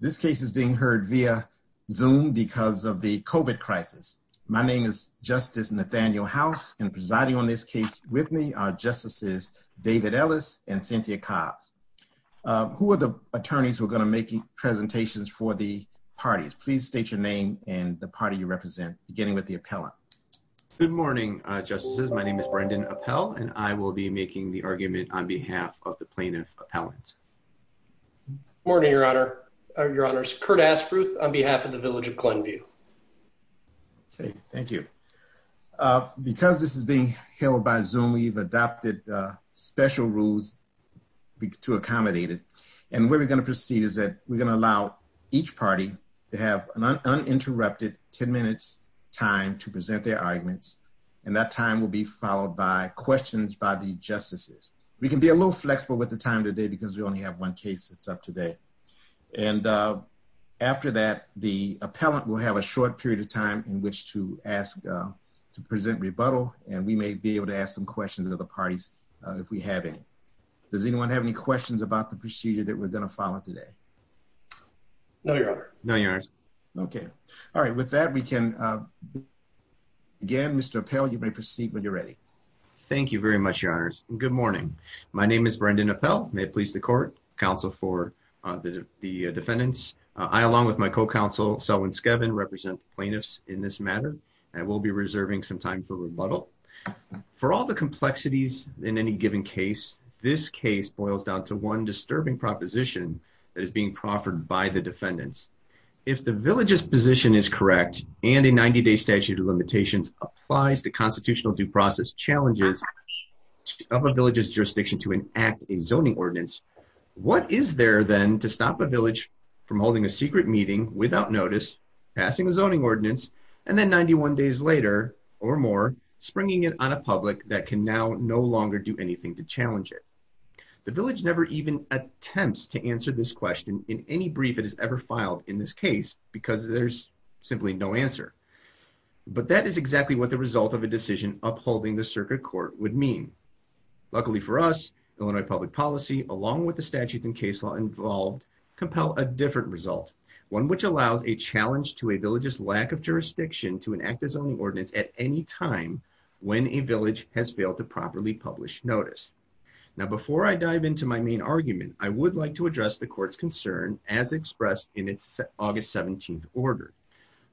This case is being heard via Zoom because of the COVID crisis. My name is Justice Nathaniel House, and presiding on this case with me are Justices David Ellis and Cynthia Cobb. Who are the attorneys who are going to make presentations for the parties? Please state your name and the party you represent, beginning with the appellant. Good morning, Justices. My name is Brendan Appell, and I will be making the argument on behalf of the plaintiff's appellant. Good morning, Your Honor. Your Honor, it's Kurt Aspruth on behalf of the Village of Glenview. Great. Thank you. Because this is being held by Zoom, we've adopted special rules to accommodate it. And the way we're going to proceed is that we're going to allow each party to have an uninterrupted 10-minute time to present their arguments. And that time will be followed by questions by the Justices. We can be a little flexible with the time today because we only have one case that's up today. And after that, the appellant will have a short period of time in which to ask to present rebuttal, and we may be able to ask some questions of the parties if we have any. Does anyone have any questions about the procedure that we're going to follow today? No, Your Honor. No, Your Honor. Okay. All right. With that, we can begin. Mr. Appell, you may proceed when you're ready. Thank you very much, Your Honor. Good morning. My name is Brendan Appell. May it please the Court, counsel for the defendants. I, along with my co-counsel, Selwyn Skevin, represent plaintiffs in this matter and will be reserving some time for rebuttal. For all the complexities in any given case, this case boils down to one disturbing proposition that is being proffered by the defendants. If the village's position is correct and a 90-day statute of limitations applies to a village's jurisdiction to enact a zoning ordinance, what is there, then, to stop a village from holding a secret meeting without notice, passing a zoning ordinance, and then 91 days later or more, springing it on a public that can now no longer do anything to challenge it? The village never even attempts to answer this question in any brief that is ever filed in this case because there's simply no answer. But that is exactly what the result of a decision upholding the circuit court would mean. Luckily for us, Illinois public policy, along with the statutes and case law involved, compel a different result, one which allows a challenge to a village's lack of jurisdiction to enact a zoning ordinance at any time when a village has failed to properly publish notice. Now, before I dive into my main argument, I would like to address the Court's concern as expressed in its August 17th order.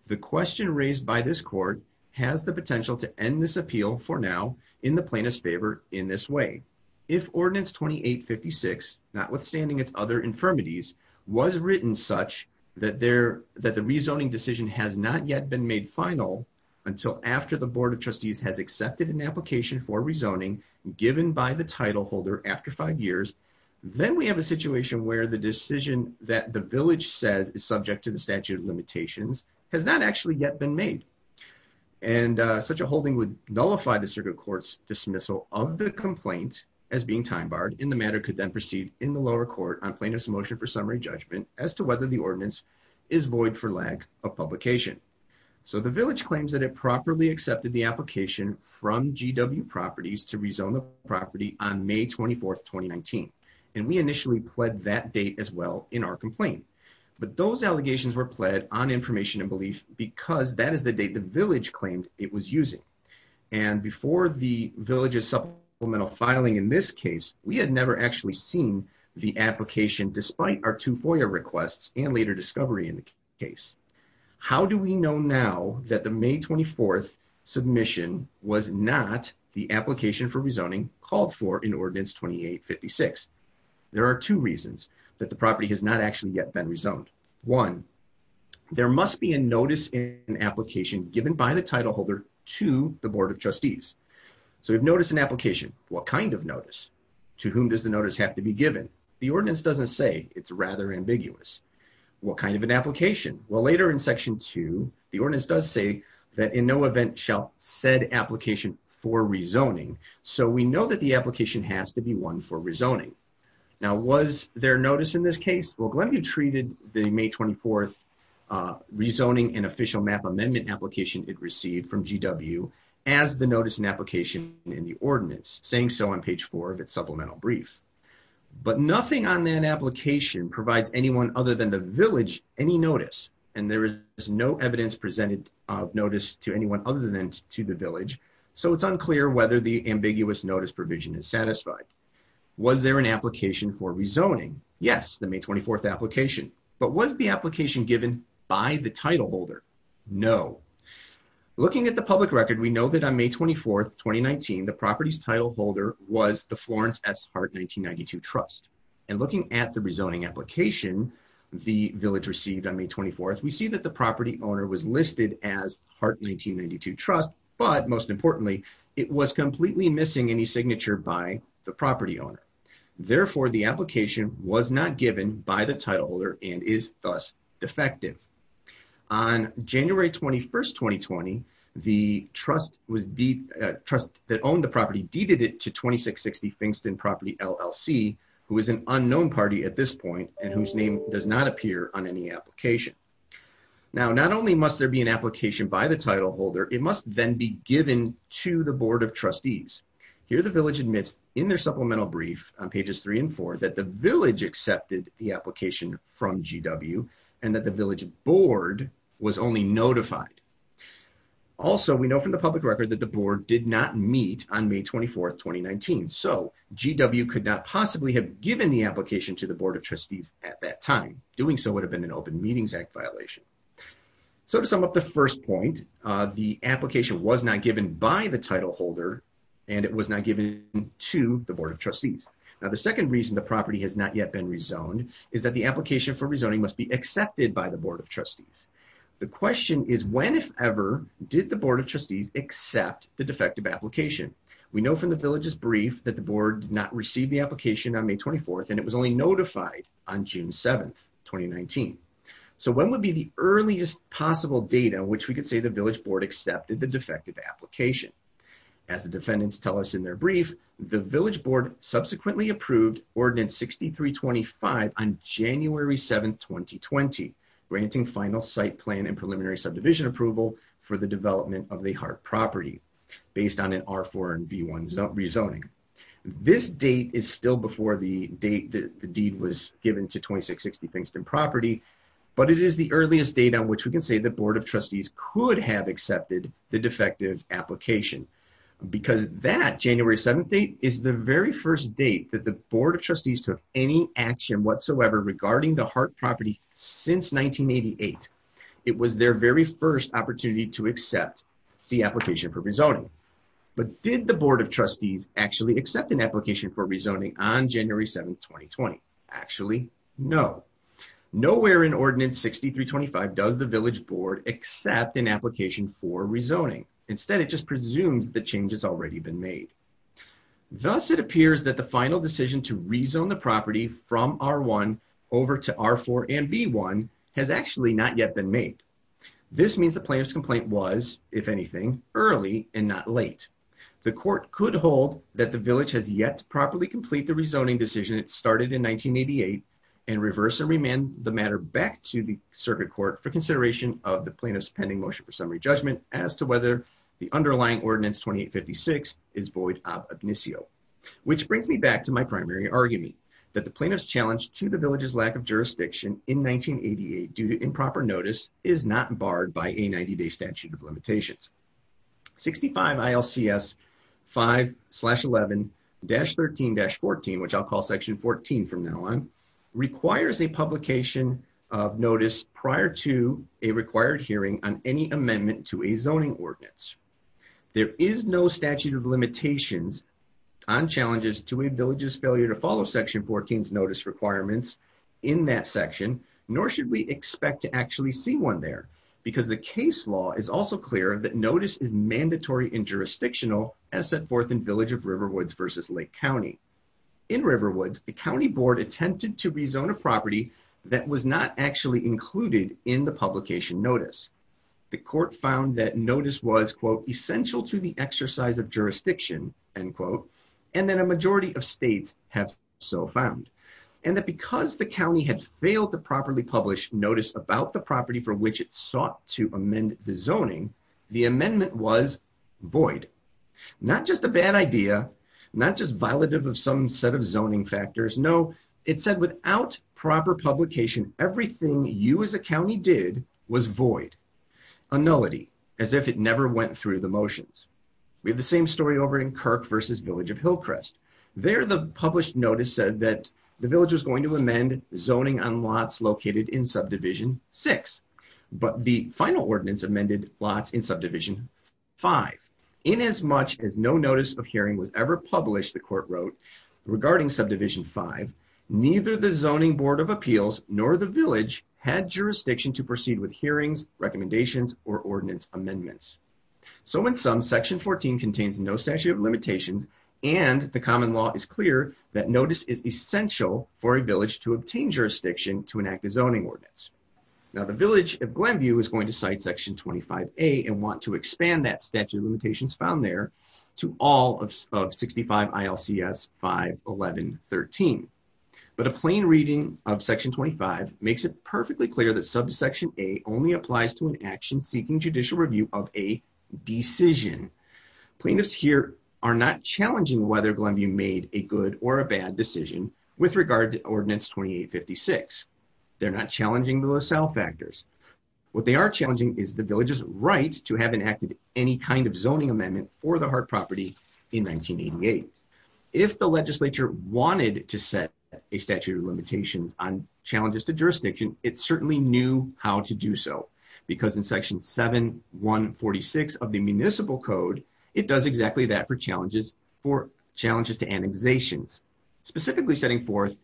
The question raised by this Court has the potential to end this appeal for now in the plaintiff's favor in this way. If Ordinance 2856, notwithstanding its other infirmities, was written such that the rezoning decision has not yet been made final until after the Board of Trustees has accepted an application for rezoning given by the title holder after five years, then we have a situation where the decision that the village said is subject to the statute of limitations has not actually yet been made. And such a holding would nullify the circuit court's dismissal of the complaint as being time-barred, and the matter could then proceed in the lower court on plaintiff's motion for summary judgment as to whether the ordinance is void for lack of publication. So the village claims that it properly accepted the application from GW Properties to rezone the property on May 24th, 2019. And we initially pled that date as well in our complaint. But those allegations were pled on information and belief because that is the date the village claimed it was using. And before the village's supplemental filing in this case, we had never actually seen the application despite our two FOIA requests and later discovery in the case. How do we know now that the May 24th submission was not the application for rezoning called for in Ordinance 2856? There are two reasons that the property has not actually yet been rezoned. One, there must be a notice in an application given by the title holder to the Board of Trustees. So notice in application, what kind of notice? To whom does the notice have to be given? The ordinance doesn't say. It's rather ambiguous. What kind of an application? Well, later in Section 2, the ordinance does say that in no event shall said application for rezoning. So we know that the application has to be one for rezoning. Now, was there notice in this case? Well, Glenby treated the May 24th rezoning and official map amendment application it received from GW as the notice in application in the ordinance, saying so on page 4 of its supplemental brief. But nothing on that application provides anyone other than the village any notice. And there is no evidence presented of notice to anyone other than to the village. So it's unclear whether the ambiguous notice provision is satisfied. Was there an application for rezoning? Yes, the May 24th application. But was the application given by the title holder? No. Looking at the public record, we know that on May 24th, 2019, the property's title holder was the Florence S. Hart 1992 Trust. And looking at the rezoning application, the village received on May 24th, we see that the property owner was listed as Hart 1992 Trust, but most importantly, it was completely missing any signature by the property owner. Therefore, the application was not given by the title holder and is thus defective. On January 21st, 2020, the trust that owned the property deeded it to 2660 Fingston Property LLC, who is an unknown party at this point and whose name does not appear on any application. Now, not only must there be an application by the title holder, it must then be given to the Board of Trustees. Here the village admits in their supplemental brief on pages 3 and 4 that the village accepted the application from GW and that the village board was only notified. Also, we know from the public record that the board did not meet on May 24th, 2019. So, GW could not possibly have given the application to the Board of Trustees at that time. Doing so would have been an Open Meetings Act violation. So, to sum up the first point, the application was not given by the title holder and it was not given to the Board of Trustees. Now, the second reason the property has not yet been rezoned is that the application for rezoning must be accepted by the Board of Trustees. The question is when, if ever, did the Board of Trustees accept the defective application? We know from the village's brief that the board did not receive the application on May 24th and it was only notified on June 7th, 2019. So, when would be the earliest possible date on which we could say the village board accepted the defective application? As the defendants tell us in their brief, the village board subsequently approved Ordinance 6325 on January 7th, 2020, granting final site plan and preliminary subdivision approval for the development of a heart property based on an R4 and B1 rezoning. This date is still before the date the deed was given to 2660 Pinkston Property, but it is the earliest date on which we can say the Board of Trustees could have accepted the defective application because that January 7th date is the very first date that the Board of Trustees took any action whatsoever regarding the heart property since 1988. It was their very first opportunity to accept the application for rezoning. But did the Board of Trustees actually accept an application for rezoning on January 7th, 2020? Actually, no. Nowhere in Ordinance 6325 does the village board accept an application for rezoning. Instead, it just presumes the change has already been made. Thus, it appears that the final decision to rezone the property from R1 over to R4 and B1 has actually not yet been made. This means the plaintiff's complaint was, if anything, early and not late. The court could hold that the village has yet to properly complete the rezoning decision when it started in 1988 and reverse and remand the matter back to the circuit court for consideration of the plaintiff's pending motion for summary judgment as to whether the underlying Ordinance 2856 is void ad obitio. Which brings me back to my primary argument, that the plaintiff's challenge to the village's lack of jurisdiction in 1988 due to improper notice is not barred by a 90-day statute of limitations. 65 ILCS 5-11-13-14, which I'll call Section 14 from now on, requires a publication of notice prior to a required hearing on any amendment to a zoning ordinance. There is no statute of limitations on challenges to a village's failure to follow Section 14's notice requirements in that section, nor should we expect to actually see one there. Because the case law is also clear that notice is mandatory and jurisdictional, as set forth in Village of Riverwoods v. Lake County. In Riverwoods, the county board attempted to rezone a property that was not actually included in the publication notice. The court found that notice was, quote, essential to the exercise of jurisdiction, end quote, and that a majority of states have so found. And that because the county had failed to properly publish notice about the property for which it sought to amend the zoning, the amendment was void. Not just a bad idea. Not just violative of some set of zoning factors. No, it said without proper publication, everything you as a county did was void. A nullity, as if it never went through the motions. We have the same story over in Kirk v. Village of Hillcrest. There the published notice said that the village was going to amend zoning on lots located in subdivision 6. But the final ordinance amended lots in subdivision 5. In as much as no notice of hearing was ever published, the court wrote, regarding subdivision 5, neither the zoning board of appeals nor the village had jurisdiction to proceed with hearings, recommendations, or ordinance amendments. So in sum, section 14 contains no statute of limitation, and the common law is clear that notice is essential for a village to obtain jurisdiction to enact a zoning ordinance. Now the village of Glenview is going to cite section 25A and want to expand that statute of limitations found there to all of 65 ILCS 511.13. But a plain reading of section 25 makes it perfectly clear that subsection A only applies to an action seeking judicial review of a decision. Plaintiffs here are not challenging whether Glenview made a good or a bad decision with regard to ordinance 2856. They're not challenging the LaSalle factors. What they are challenging is the village's right to have enacted any kind of zoning amendment for the heart property in 1988. If the legislature wanted to set a statute of limitation on challenges to jurisdiction, it certainly knew how to do so, because in section 7146 of the municipal code, it does exactly that for challenges to annexations, specifically setting forth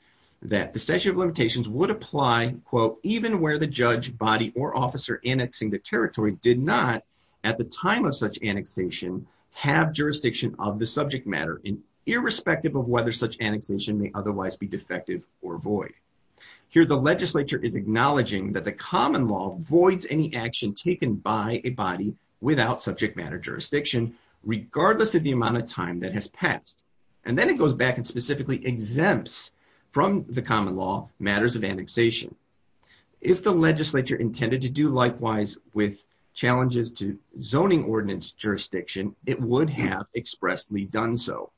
that the statute of limitations would apply, quote, even where the judge, body, or officer annexing the territory did not at the time of such annexation have jurisdiction of the subject matter, and irrespective of whether such annexation may otherwise be defective or void. Here the legislature is acknowledging that the common law voids any action taken by a body without subject matter jurisdiction, regardless of the amount of time that has passed, and then it goes back and specifically exempts from the common law matters of annexation. If the legislature intended to do likewise with challenges to zoning ordinance jurisdiction, it would have expressly done so.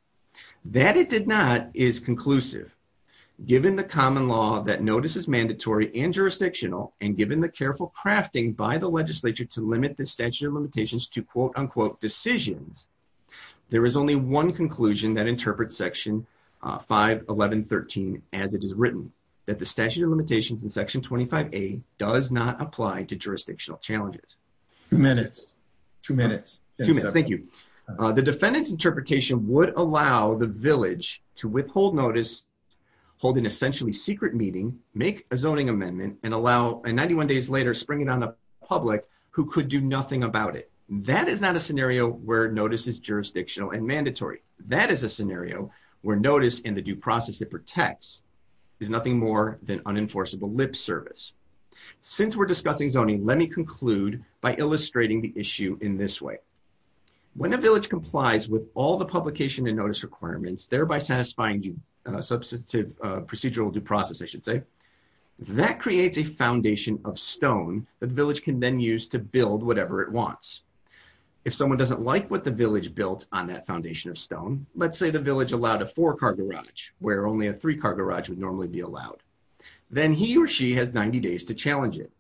That it did not is conclusive. Given the common law that notice is mandatory and jurisdictional, and given the careful crafting by the legislature to limit the statute of limitations to, quote, unquote, decisions, there is only one conclusion that interprets section 51113 as it is written, that the statute of limitations in section 25A does not apply to jurisdictional challenges. Two minutes. Two minutes. Thank you. The defendant's interpretation would allow the village to withhold notice, hold an essentially secret meeting, make a zoning amendment, and allow, 91 days later, spring it on the public who could do nothing about it. That is not a scenario where notice is jurisdictional and mandatory. That is a scenario where notice in the due process it protects is nothing more than unenforceable lip service. Since we're discussing zoning, let me conclude by illustrating the issue in this way. When a village complies with all the publication and notice requirements, thereby satisfying procedural due process, I should say, that creates a foundation of stone that the village can then use to build whatever it wants. If someone doesn't like what the village built on that foundation of stone, let's say the village allowed a four-car garage where only a three-car garage would normally be allowed, then he or she has 90 days to challenge it.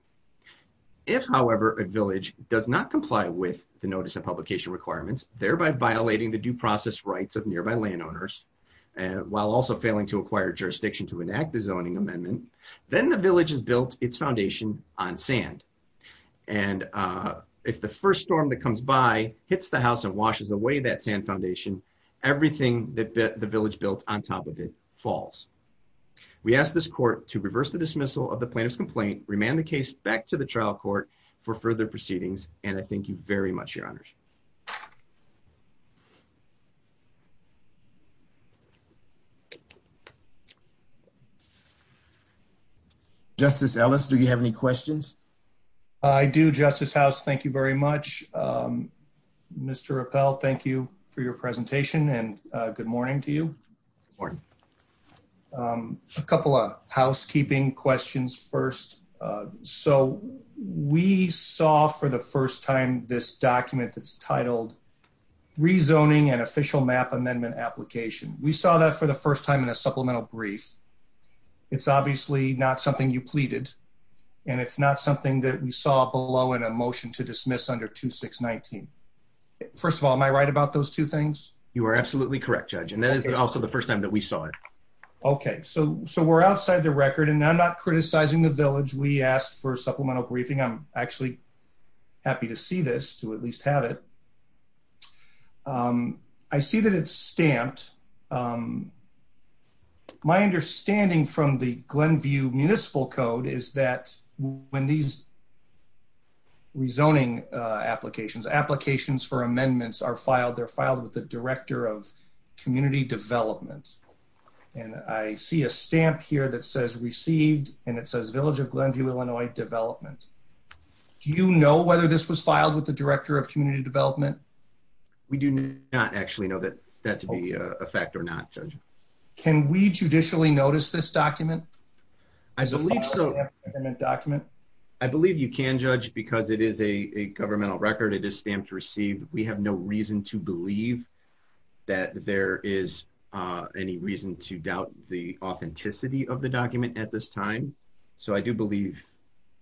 If, however, a village does not comply with the notice and publication requirements, thereby violating the due process rights of nearby landowners, while also failing to acquire jurisdiction to enact the zoning amendment, then the village has built its foundation on sand. And if the first storm that comes by hits the house and washes away that sand foundation, everything that the village built on top of it falls. We ask this court to reverse the dismissal of the plaintiff's complaint, remand the case back to the trial court for further proceedings, and I thank you very much, Your Honors. Justice Ellis, do you have any questions? I do, Justice House. Thank you very much. Mr. Rappel, thank you for your presentation, and good morning to you. Good morning. A couple of housekeeping questions first. So we saw for the first time this document that's titled Rezoning an Official Map Amendment Application. We saw that for the first time in a supplemental brief. It's obviously not something you pleaded, and it's not something that we saw below in a motion to dismiss under 2619. First of all, am I right about those two things? You are absolutely correct, Judge, and that is also the first time that we saw it. Okay. So we're outside the record, and I'm not criticizing the village. We asked for a supplemental briefing. I'm actually happy to see this, to at least have it. I see that it's stamped. My understanding from the Glenview Municipal Code is that when these rezoning applications, applications for amendments are filed, they're filed with the Director of Community Development. And I see a stamp here that says Received, and it says Village of Glenview, Illinois Development. Do you know whether this was filed with the Director of Community Development? We do not actually know that to be a fact or not, Judge. Can we judicially notice this document? I believe so. I believe you can, Judge, because it is a governmental record. It is stamped Received. We have no reason to believe that there is any reason to doubt the authenticity of the document at this time. So I do believe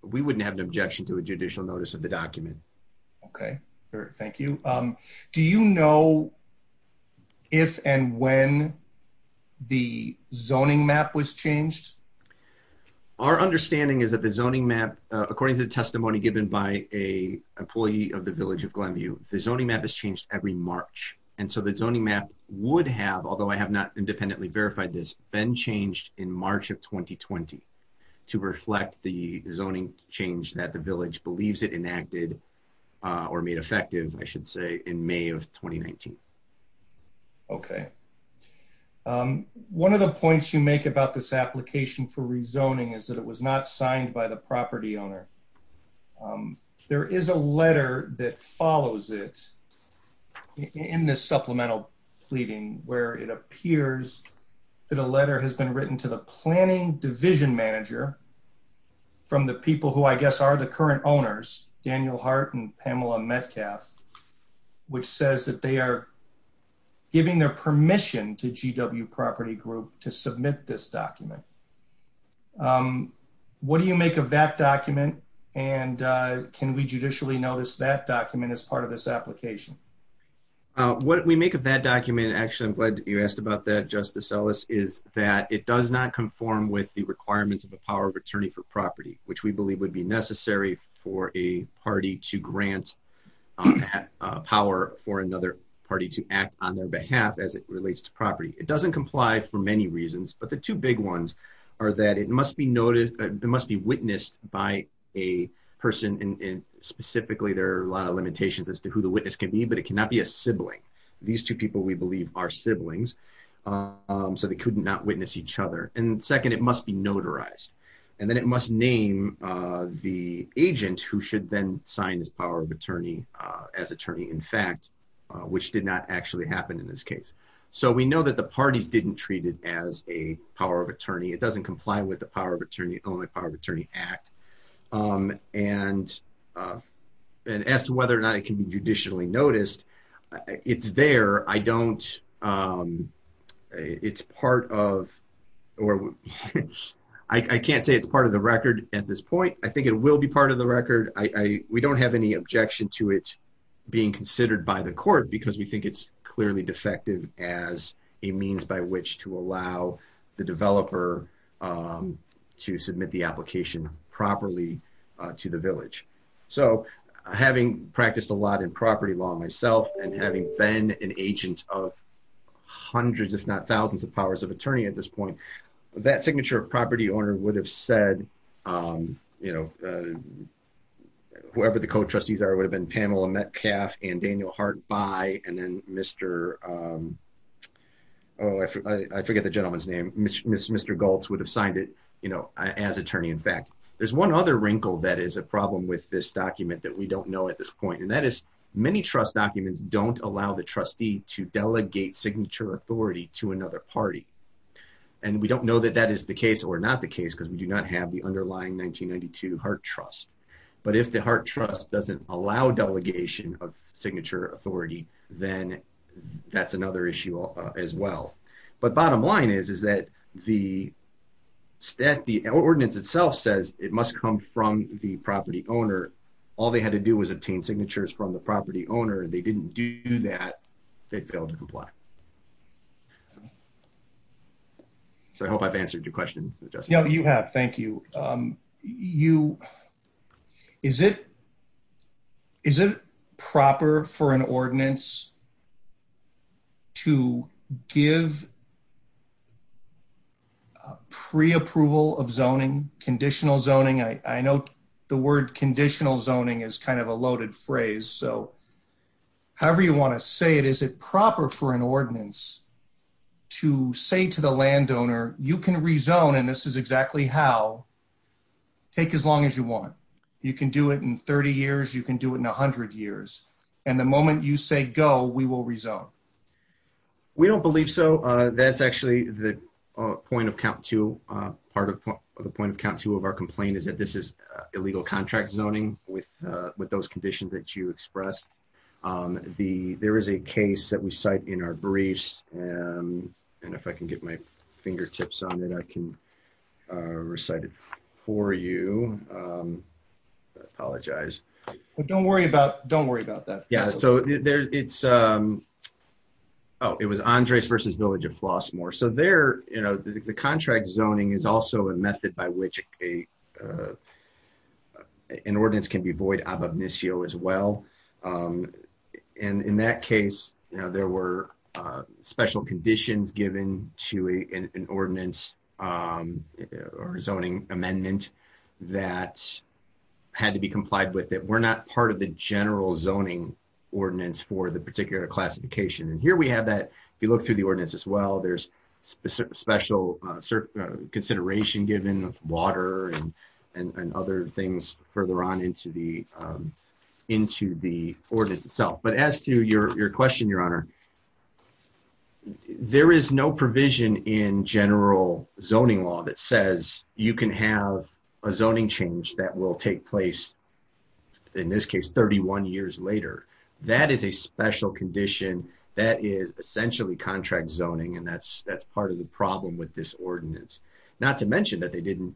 we wouldn't have an objection to a judicial notice of the document. Okay. Thank you. Do you know if and when the zoning map was changed? Our understanding is that the zoning map, according to the testimony given by an employee of the Village of Glenview, the zoning map is changed every March. And so the zoning map would have, although I have not independently verified this, been changed in March of 2020 to reflect the zoning change that the Village believes it enacted or made effective, I should say, in May of 2019. Okay. One of the points you make about this application for rezoning is that it was not signed by the property owner. There is a letter that follows it in this supplemental pleading where it appears that a letter has been written to the planning division manager from the people who I guess are the current owners, Daniel Hart and Pamela Metcalf, which says that they are giving their permission to GW Property Group to submit this document. What do you make of that document and can we judicially notice that document as part of this application? What we make of that document, actually I'm glad you asked about that Justice Ellis, is that it does not conform with the requirements of the power of attorney for property, which we believe would be necessary for a party to grant power for another party to act on their behalf as it relates to property. It doesn't comply for many reasons, but the two big ones are that it must be witnessed by a person, and specifically there are a lot of limitations as to who the witness could be, but it cannot be a sibling. These two people we believe are siblings, so they could not witness each other. And second, it must be notarized. And then it must name the agent who should then sign this power of attorney as attorney in fact, which did not actually happen in this case. So we know that the parties didn't treat it as a power of attorney. It doesn't comply with the Power of Attorney Act. And as to whether or not it can be judicially noticed, it's there. I don't, it's part of, or I can't say it's part of the record at this point. We don't have any objection to it being considered by the court because we think it's clearly defective as a means by which to allow the developer to submit the application properly to the village. So having practiced a lot in property law myself and having been an agent of hundreds, if not thousands, of powers of attorney at this point, that signature of property owner would have said, you know, whoever the co-trustees are would have been Pamela Metcalf and Daniel Hart Bye and then Mr., oh, I forget the gentleman's name, Mr. Galtz would have signed it, you know, as attorney in fact. There's one other wrinkle that is a problem with this document that we don't know at this point. And that is many trust documents don't allow the trustee to delegate signature authority to another party. And we don't know that that is the case or not the case because we do not have the underlying 1992 Hart Trust. But if the Hart Trust doesn't allow delegation of signature authority, then that's another issue as well. But bottom line is that the ordinance itself says it must come from the property owner. All they had to do was obtain signatures from the property owner. If they didn't do that, they'd fail to comply. So I hope I've answered your question. You have. Thank you. Is it proper for an ordinance to give preapproval of zoning, conditional zoning? I know the word conditional zoning is kind of a loaded phrase. However you want to say it, is it proper for an ordinance to say to the landowner, you can rezone and this is exactly how. Take as long as you want. You can do it in 30 years, you can do it in 100 years. And the moment you say go, we will rezone. We don't believe so. That's actually the point of count two. Part of the point of count two of our complaint is that this is illegal contract zoning with those conditions that you expressed. There is a case that we cite in our briefs. And if I can get my fingertips on it, I can recite it for you. I apologize. Don't worry about that. Yeah. So it was Andres versus Village of Flossmoor. So there, you know, the contract zoning is also a method by which an ordinance can be void as well. And in that case, you know, there were special conditions given to an ordinance or zoning amendment that had to be complied with. We're not part of the general zoning ordinance for the particular classification. And here we have that. If you look through the ordinance as well, there's special consideration given, water and other things further on into the ordinance itself. But as to your question, Your Honor, there is no provision in general zoning law that says you can have a zoning change that will take place, in this case, 31 years later. That is a special condition that is essentially contract zoning. And that's part of the problem with this ordinance. Not to mention that they didn't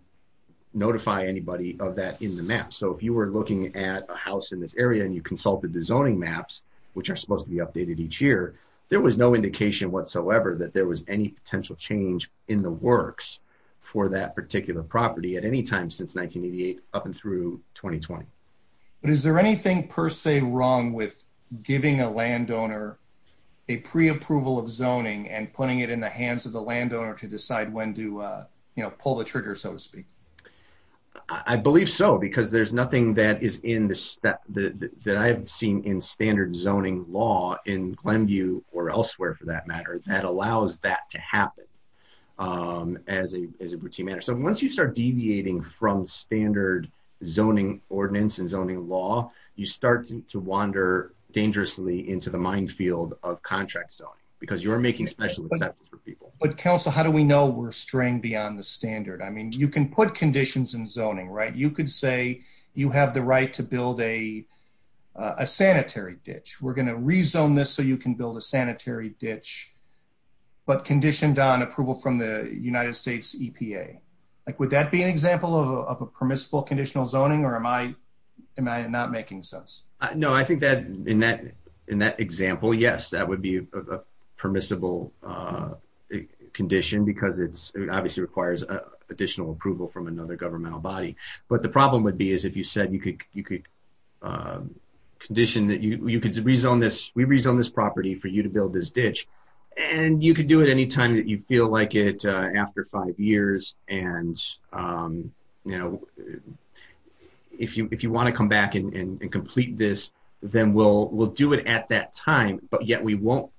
notify anybody of that in the map. So if you were looking at a house in this area and you consulted the zoning maps, which are supposed to be updated each year, there was no indication whatsoever that there was any potential change in the works for that particular property at any time since 1988 up and through 2020. Is there anything per se wrong with giving a landowner a preapproval of zoning and putting it in the hands of the landowner to decide when to pull the trigger, so to speak? I believe so, because there's nothing that I've seen in standard zoning law in Glenview or elsewhere, for that matter, that allows that to happen as a routine matter. So once you start deviating from standard zoning ordinance and zoning law, you start to wander dangerously into the minefield of contract zoning, because you're making special assumptions for people. But counsel, how do we know we're straying beyond the standard? I mean, you can put conditions in zoning, right? You could say you have the right to build a sanitary ditch. We're going to rezone this so you can build a sanitary ditch, but condition down approval from the United States EPA. Would that be an example of a permissible conditional zoning, or am I not making sense? No, I think that in that example, yes, that would be a permissible condition, because it obviously requires additional approval from another governmental body. But the problem would be is if you said you could condition that you could rezone this, we rezone this property for you to build this ditch, and you could do it any time that you feel like it after five years. And if you want to come back and complete this, then we'll do it at that time. But yet we won't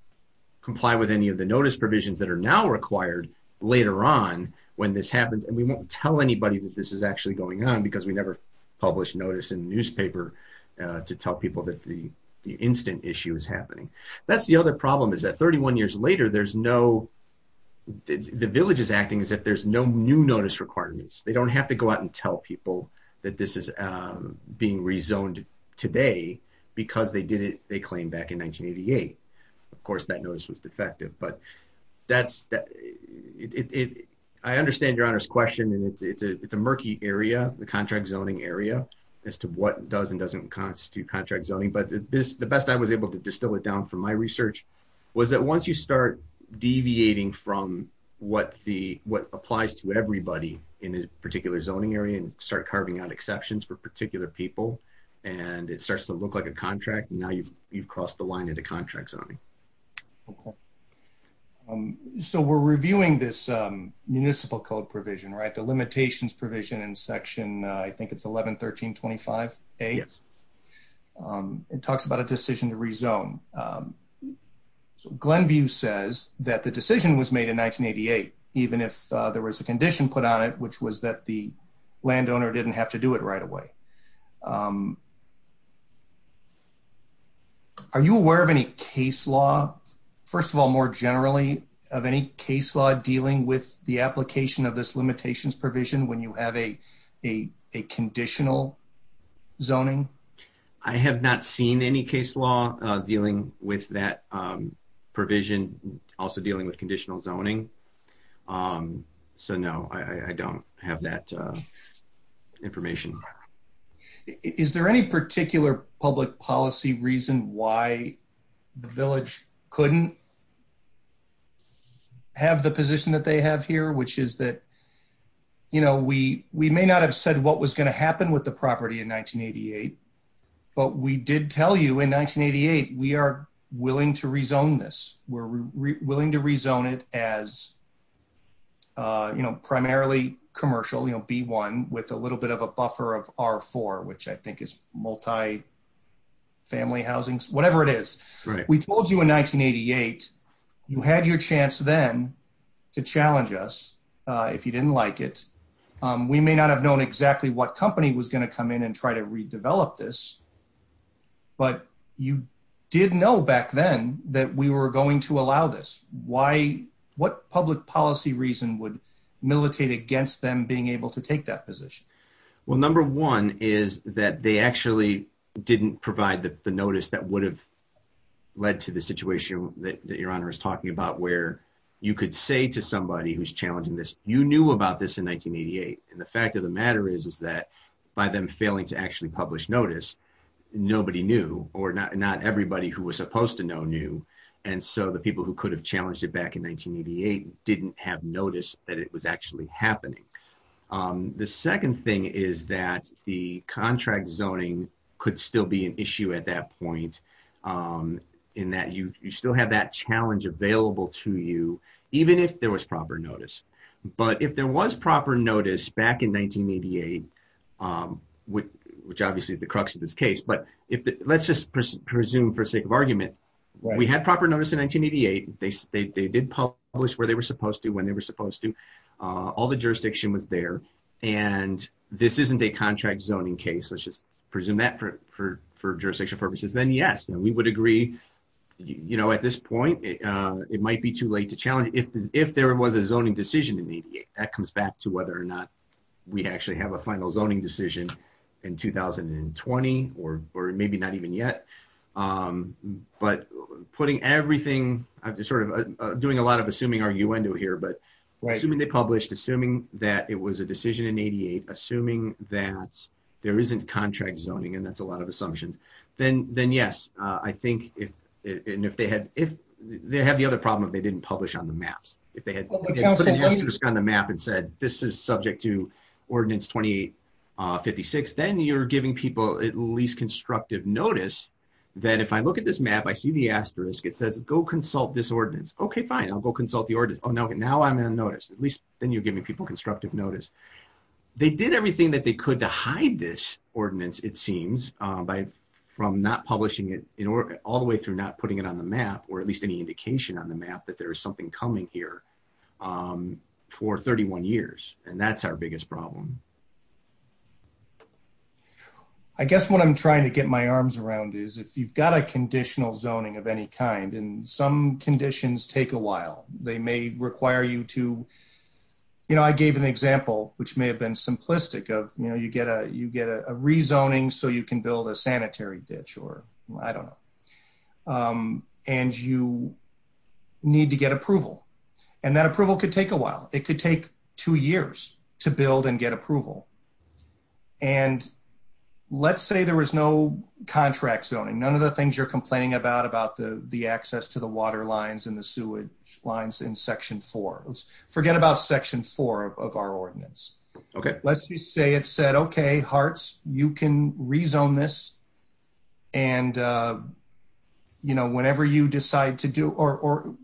comply with any of the notice provisions that are now required later on when this happens, and we won't tell anybody that this is actually going on, because we never publish notice in the newspaper to tell people that the instant issue is happening. That's the other problem, is that 31 years later, there's no – the village is acting as if there's no new notice requirements. They don't have to go out and tell people that this is being rezoned today, because they did it, they claim, back in 1988. Of course, that notice was defective, but that's – I understand Your Honor's question, and it's a murky area, the contract zoning area, as to what does and doesn't constitute contract zoning. But the best I was able to distill it down from my research was that once you start deviating from what applies to everybody in a particular zoning area and start carving out exceptions for particular people, and it starts to look like a contract, now you've crossed the line into contract zoning. So we're reviewing this municipal code provision, right, the limitations provision in section – I think it's 1113.25a? Yes. It talks about a decision to rezone. So Glenview says that the decision was made in 1988, even if there was a condition put on it, which was that the landowner didn't have to do it right away. Are you aware of any case law – first of all, more generally, of any case law dealing with the application of this limitations provision when you have a conditional zoning? I have not seen any case law dealing with that provision, also dealing with conditional zoning. So no, I don't have that information. Is there any particular public policy reason why the village couldn't have the position that they have here, which is that – we may not have said what was going to happen with the property in 1988, but we did tell you in 1988 we are willing to rezone this. We're willing to rezone it as primarily commercial, B1, with a little bit of a buffer of R4, which I think is multi-family housing, whatever it is. We told you in 1988. You had your chance then to challenge us if you didn't like it. We may not have known exactly what company was going to come in and try to redevelop this, but you did know back then that we were going to allow this. What public policy reason would militate against them being able to take that position? Well, number one is that they actually didn't provide the notice that would have led to the situation that Your Honor is talking about, where you could say to somebody who's challenging this, you knew about this in 1988. And the fact of the matter is that by them failing to actually publish notice, nobody knew, or not everybody who was supposed to know knew. And so the people who could have challenged it back in 1988 didn't have notice that it was actually happening. The second thing is that the contract zoning could still be an issue at that point in that you still have that challenge available to you, even if there was proper notice. But if there was proper notice back in 1988, which obviously is the crux of this case, but let's just presume for sake of argument, we had proper notice in 1988. They did publish where they were supposed to, when they were supposed to, all the jurisdiction was there, and this isn't a contract zoning case. Let's just presume that for jurisdictional purposes. Then, yes, we would agree at this point, it might be too late to challenge. If there was a zoning decision in 1988, that comes back to whether or not we actually have a final zoning decision in 2020, or maybe not even yet. But putting everything, sort of doing a lot of assuming arguendo here, but assuming they published, assuming that it was a decision in 1988, assuming that there isn't contract zoning, and that's a lot of assumptions. Then, yes, I think if they had the other problem if they didn't publish on the maps. If they had put an asterisk on the map and said, this is subject to Ordinance 2856, then you're giving people at least constructive notice that if I look at this map, I see the asterisk, it says, go consult this ordinance. Okay, fine, I'll go consult the ordinance. Oh, now I'm on notice. At least then you're giving people constructive notice. They did everything that they could to hide this ordinance, it seems, from not publishing it all the way through not putting it on the map, or at least any indication on the map that there's something coming here for 31 years, and that's our biggest problem. I guess what I'm trying to get my arms around is if you've got a conditional zoning of any kind, and some conditions take a while. They may require you to, you know, I gave an example, which may have been simplistic of, you know, you get a rezoning so you can build a sanitary ditch, or I don't know, and you need to get approval. And that approval could take a while. It could take two years to build and get approval. And let's say there was no contract zoning. None of the things you're complaining about, about the access to the water lines and the sewage lines in Section 4. Forget about Section 4 of our ordinance. Okay. Let's just say it said, okay, HARTS, you can rezone this, and, you know, whenever you decide to do, or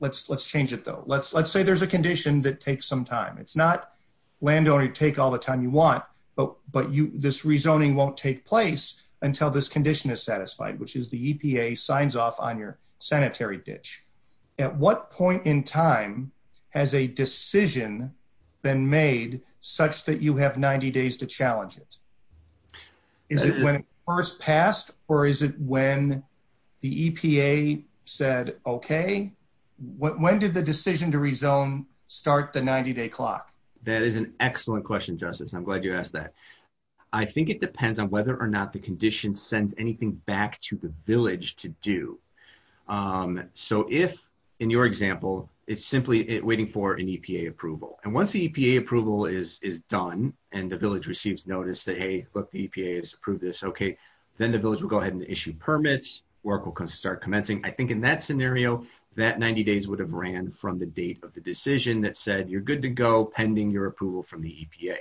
let's change it, though. Let's say there's a condition that takes some time. It's not landowner take all the time you want, but this rezoning won't take place until this condition is satisfied, which is the EPA signs off on your sanitary ditch. At what point in time has a decision been made such that you have 90 days to challenge it? Is it when it first passed, or is it when the EPA said, okay, when did the decision to rezone start the 90-day clock? That is an excellent question, Justice. I'm glad you asked that. I think it depends on whether or not the condition sends anything back to the village to do. So if, in your example, it's simply waiting for an EPA approval. And once the EPA approval is done and the village receives notice that, hey, look, the EPA has approved this, okay, then the village will go ahead and issue permits, work will start commencing. I think in that scenario, that 90 days would have ran from the date of the decision that said you're good to go pending your approval from the EPA.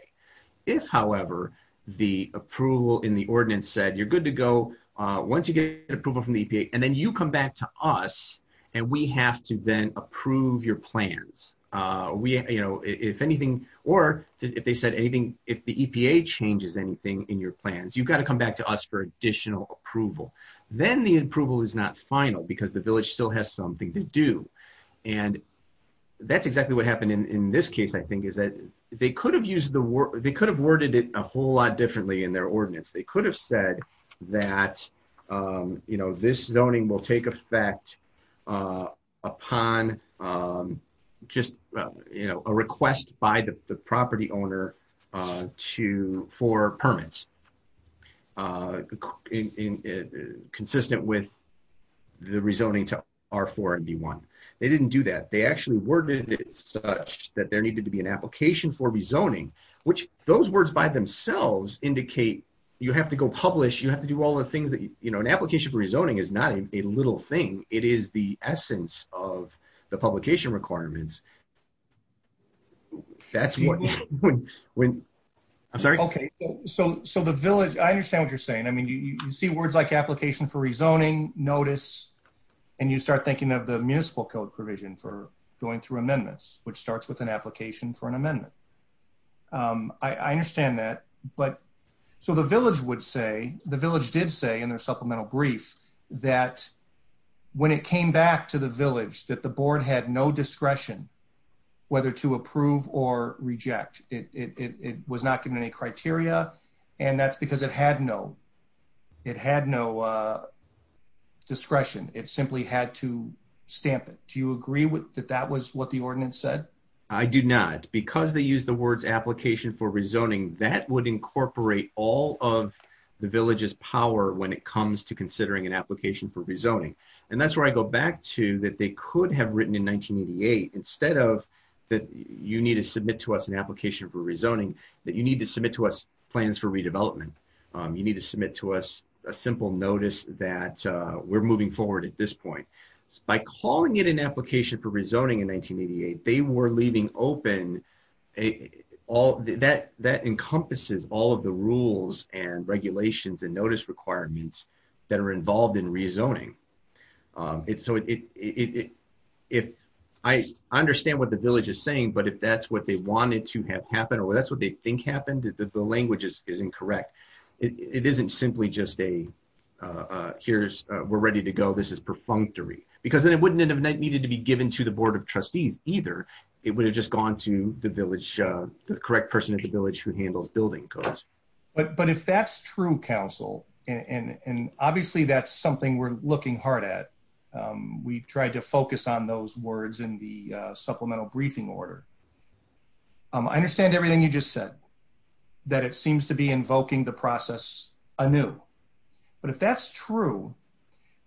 If, however, the approval in the ordinance said you're good to go once you get approval from the EPA, and then you come back to us, and we have to then approve your plans. If anything, or if they said anything, if the EPA changes anything in your plans, you've got to come back to us for additional approval. Then the approval is not final because the village still has something to do. And that's exactly what happened in this case, I think, is that they could have worded it a whole lot differently in their ordinance. They could have said that this zoning will take effect upon just a request by the property owner for permits consistent with the rezoning to R4 and D1. They didn't do that. They actually worded it such that there needed to be an application for rezoning, which those words by themselves indicate you have to go publish, you have to do all the things that, you know, an application for rezoning is not a little thing. It is the essence of the publication requirements. I'm sorry? Okay. So the village, I understand what you're saying. I mean, you see words like application for rezoning, notice, and you start thinking of the municipal code provision for going through amendments, which starts with an application for an amendment. I understand that. So the village would say, the village did say in a supplemental brief that when it came back to the village that the board had no discretion whether to approve or reject. It was not given any criteria, and that's because it had no discretion. It simply had to stamp it. Do you agree that that was what the ordinance said? I do not. Because they used the words application for rezoning, that would incorporate all of the village's power when it comes to considering an application for rezoning. And that's where I go back to that they could have written in 1988, instead of that you need to submit to us an application for rezoning, that you need to submit to us plans for redevelopment. You need to submit to us a simple notice that we're moving forward at this point. By calling it an application for rezoning in 1988, they were leaving open all of that encompasses all of the rules and regulations and notice requirements that are involved in rezoning. I understand what the village is saying, but if that's what they wanted to have happen or that's what they think happened, the language is incorrect. It isn't simply just a here's, we're ready to go, this is perfunctory. Because it wouldn't have needed to be given to the Board of Trustees either. It would have just gone to the village, the correct person at the village who handles building codes. But if that's true, Council, and obviously that's something we're looking hard at, we tried to focus on those words in the supplemental briefing order. I understand everything you just said, that it seems to be invoking the process anew. But if that's true,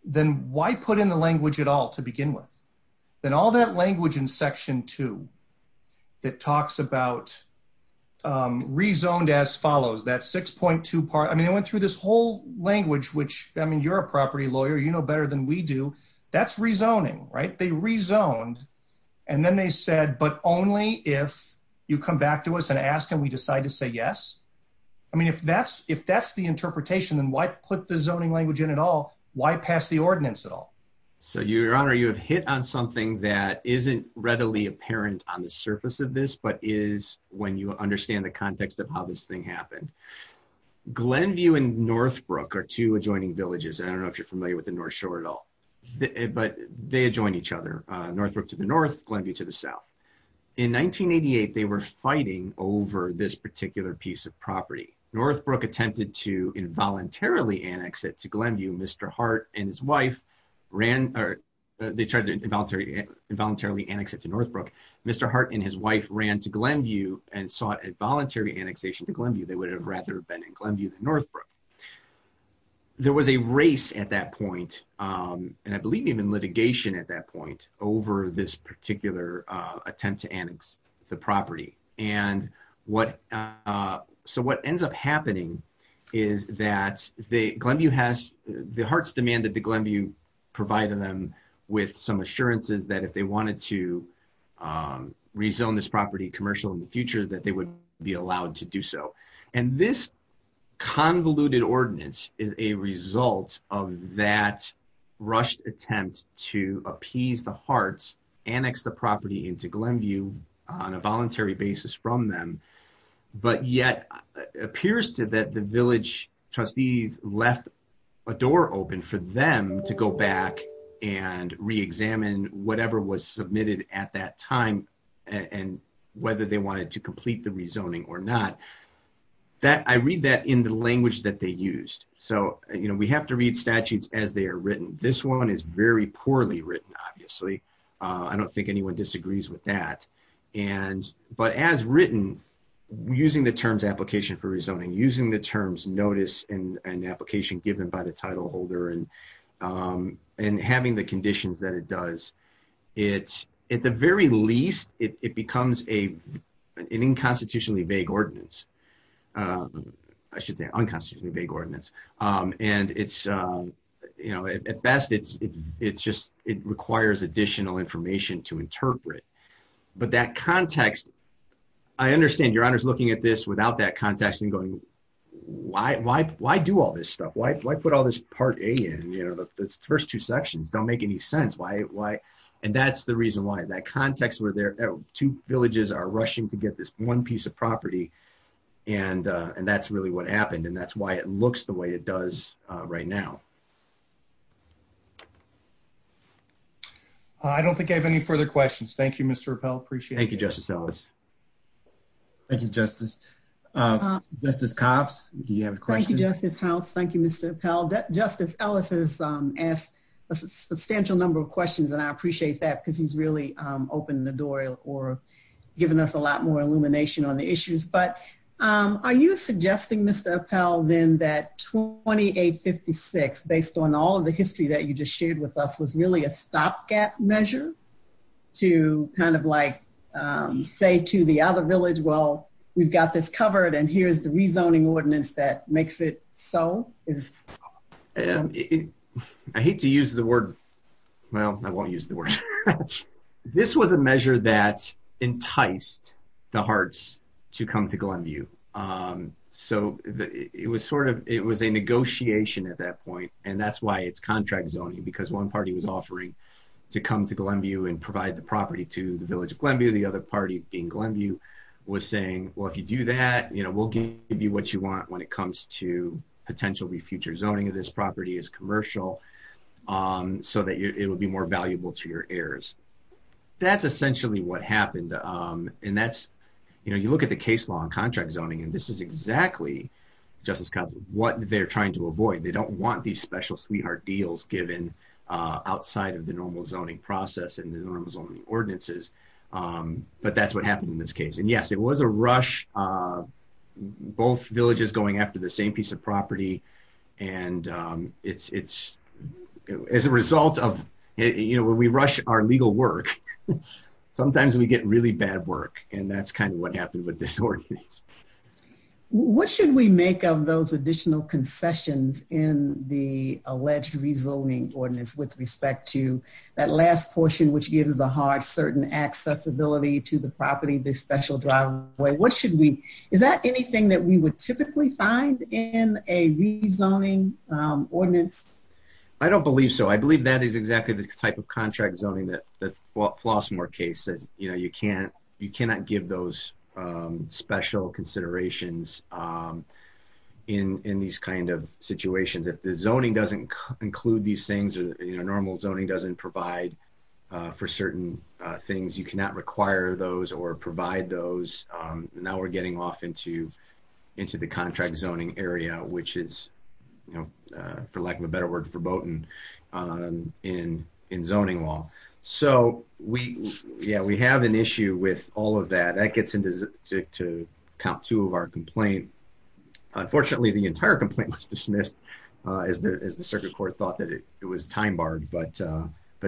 then why put in the language at all to begin with? Then all that language in Section 2 that talks about rezoned as follows, that 6.2 part, I mean, I went through this whole language, which, I mean, you're a property lawyer, you know better than we do, that's rezoning, right? And then they said, but only if you come back to us and ask and we decide to say yes? I mean, if that's the interpretation, then why put the zoning language in at all? Why pass the ordinance at all? So, Your Honor, you have hit on something that isn't readily apparent on the surface of this, but is when you understand the context of how this thing happened. Glenview and Northbrook are two adjoining villages, and I don't know if you're familiar with the North Shore at all, but they adjoin each other. Northbrook to the north, Glenview to the south. In 1988, they were fighting over this particular piece of property. Northbrook attempted to involuntarily annex it to Glenview. Mr. Hart and his wife ran, or they tried to involuntarily annex it to Northbrook. Mr. Hart and his wife ran to Glenview and sought a voluntary annexation to Glenview. They would have rather been in Glenview than Northbrook. There was a race at that point, and I believe even litigation at that point, over this particular attempt to annex the property. So what ends up happening is that the Glenview has, the Harts demanded that Glenview provide them with some assurances that if they wanted to rezone this property commercially in the future, that they would be allowed to do so. And this convoluted ordinance is a result of that rushed attempt to appease the Harts, annex the property into Glenview on a voluntary basis from them, but yet appears to that the village trustees left a door open for them to go back and reexamine whatever was submitted at that time and whether they wanted to complete the rezoning or not. I read that in the language that they used. So we have to read statutes as they are written. This one is very poorly written, obviously. I don't think anyone disagrees with that. But as written, using the terms application for rezoning, using the terms notice and application given by the title holder, and having the conditions that it does, at the very least, it becomes an unconstitutionally vague ordinance. I should say unconstitutionally vague ordinance. At best, it requires additional information to interpret. But that context, I understand Your Honor's looking at this without that context and going, why do all this stuff? Why put all this Part A in? The first two sections don't make any sense. And that's the reason why. That context where two villages are rushing to get this one piece of property, and that's really what happened, and that's why it looks the way it does right now. I don't think I have any further questions. Thank you, Mr. Appell. Appreciate it. Thank you, Justice Ellis. Thank you, Justice. Justice Copps, do you have a question? Thank you, Justice House. Thank you, Mr. Appell. Justice Ellis has asked a substantial number of questions, and I appreciate that because he's really opened the door or given us a lot more illumination on the issues. But are you suggesting, Mr. Appell, then that 2856, based on all of the history that you just shared with us, was really a stopgap measure to kind of like say to the other village, well, we've got this covered, and here's the rezoning ordinance that makes it so? I hate to use the word. Well, I won't use the word. This was a measure that enticed the hearts to come to Glenview. So it was a negotiation at that point, and that's why it's contract zoning, because one party was offering to come to Glenview and provide the property to the village of Glenview. The other party, being Glenview, was saying, well, if you do that, we'll give you what you want when it comes to potentially future zoning of this property as commercial so that it will be more valuable to your heirs. That's essentially what happened, and that's, you know, you look at the case law and contract zoning, and this is exactly, Justice Copps, what they're trying to avoid. They don't want these special sweetheart deals given outside of the normal zoning process and the normal zoning ordinances. But that's what happened in this case, and yes, it was a rush. Both villages going after the same piece of property, and it's, as a result of, you know, when we rush our legal work, sometimes we get really bad work, and that's kind of what happened with this ordinance. What should we make of those additional concessions in the alleged rezoning ordinance with respect to that last portion, which gives a hard certain accessibility to the property, the special driveway? What should we, is that anything that we would typically find in a rezoning ordinance? I don't believe so. I believe that is exactly the type of contract zoning that Flossmoor case, that, you know, you cannot give those special considerations in these kind of situations. If the zoning doesn't include these things or, you know, normal zoning doesn't provide for certain things, you cannot require those or provide those. Now we're getting off into the contract zoning area, which is, you know, for lack of a better word, foreboding in zoning law. So, yeah, we have an issue with all of that. That gets into count two of our complaint. Unfortunately, the entire complaint was dismissed as the circuit court thought that it was time barred, but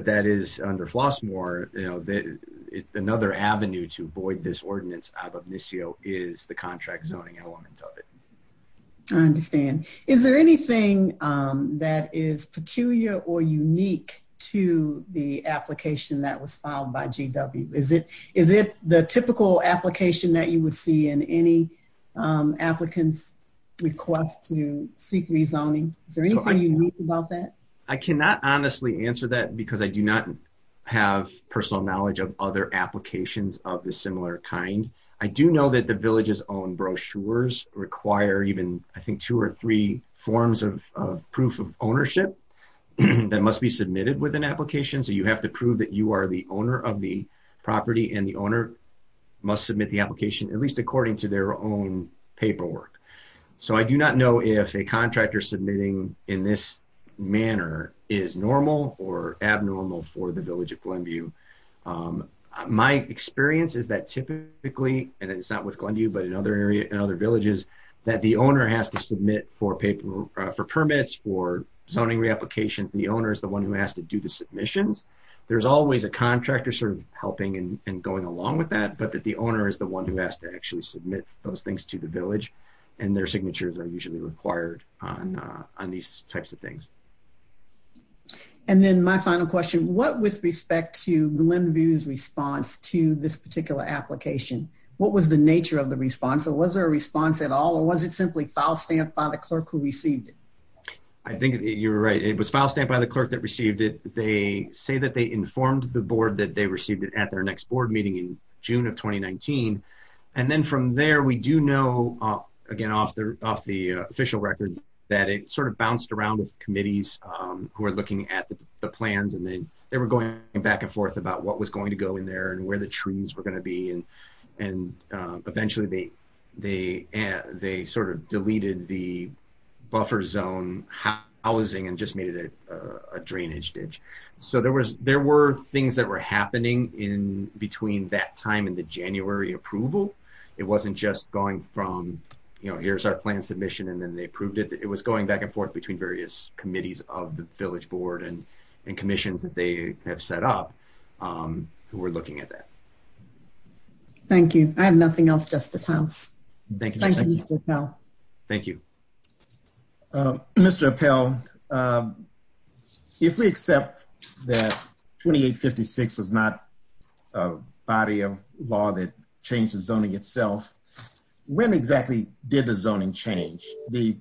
that is under Flossmoor. You know, another avenue to void this ordinance out of NISIO is the contract zoning element of it. I understand. Is there anything that is peculiar or unique to the application that was filed by GW? Is it the typical application that you would see in any applicant's request to seek rezoning? Is there anything unique about that? I cannot honestly answer that because I do not have personal knowledge of other applications of a similar kind. I do know that the village's own brochures require even, I think, two or three forms of proof of ownership that must be submitted with an application. So you have to prove that you are the owner of the property and the owner must submit the application, at least according to their own paperwork. So I do not know if a contractor submitting in this manner is normal or abnormal for the village of Glenview. My experience is that typically, and it's not with Glenview but in other villages, that the owner has to submit for permits for zoning reapplication. The owner is the one who has to do the submissions. There's always a contractor sort of helping and going along with that, but the owner is the one who has to actually submit those things to the village. And their signatures are usually required on these types of things. And then my final question, what with respect to Glenview's response to this particular application, what was the nature of the response? Was there a response at all or was it simply file stamped by the clerk who received it? I think you're right. It was file stamped by the clerk that received it. They say that they informed the board that they received it at their next board meeting in June of 2019. And then from there, we do know, again, off the official record, that it sort of bounced around the committees who are looking at the plans. And they were going back and forth about what was going to go in there and where the trees were going to be. And eventually, they sort of deleted the buffer zone housing and just made it a drainage ditch. So there were things that were happening in between that time and the January approval. It wasn't just going from, you know, here's our plan submission, and then they approved it. It was going back and forth between various committees of the village board and commissions that they have set up who were looking at that. Thank you. I have nothing else, Justice Holmes. Thank you, Mr. Appell. Thank you. Mr. Appell, if we accept that 2856 is not a body of law that changes zoning itself, when exactly did the zoning change? The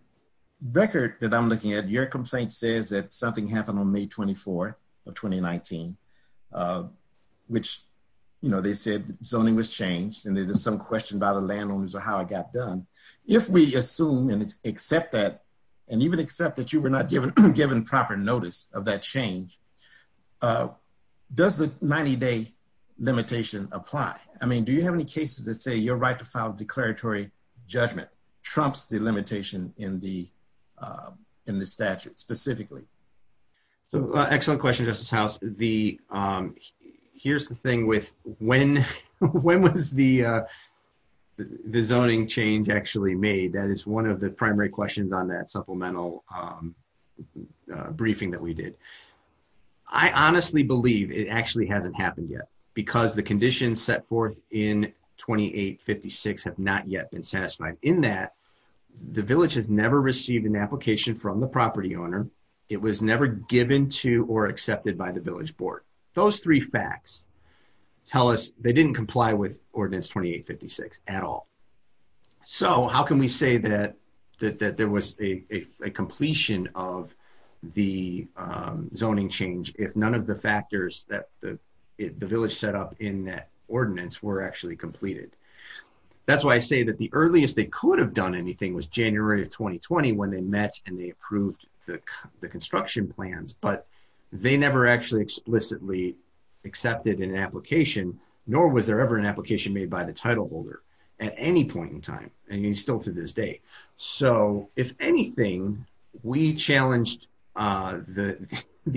record that I'm looking at, your complaint says that something happened on May 24th of 2019, which, you know, they said zoning was changed. And there's some question about the landowners or how it got done. If we assume and accept that, and even accept that you were not given proper notice of that change, does the 90-day limitation apply? I mean, do you have any cases that say your right to file declaratory judgment trumps the limitation in the statute specifically? Excellent question, Justice House. Here's the thing with when was the zoning change actually made. That is one of the primary questions on that supplemental briefing that we did. I honestly believe it actually hasn't happened yet because the conditions set forth in 2856 have not yet been satisfied. In that, the village has never received an application from the property owner. It was never given to or accepted by the village board. Those three facts tell us they didn't comply with Ordinance 2856 at all. So how can we say that there was a completion of the zoning change if none of the factors that the village set up in that ordinance were actually completed? That's why I say that the earliest they could have done anything was January of 2020 when they met and they approved the construction plans. But they never actually explicitly accepted an application, nor was there ever an application made by the title holder. At any point in time, and still to this day. So if anything, we challenged the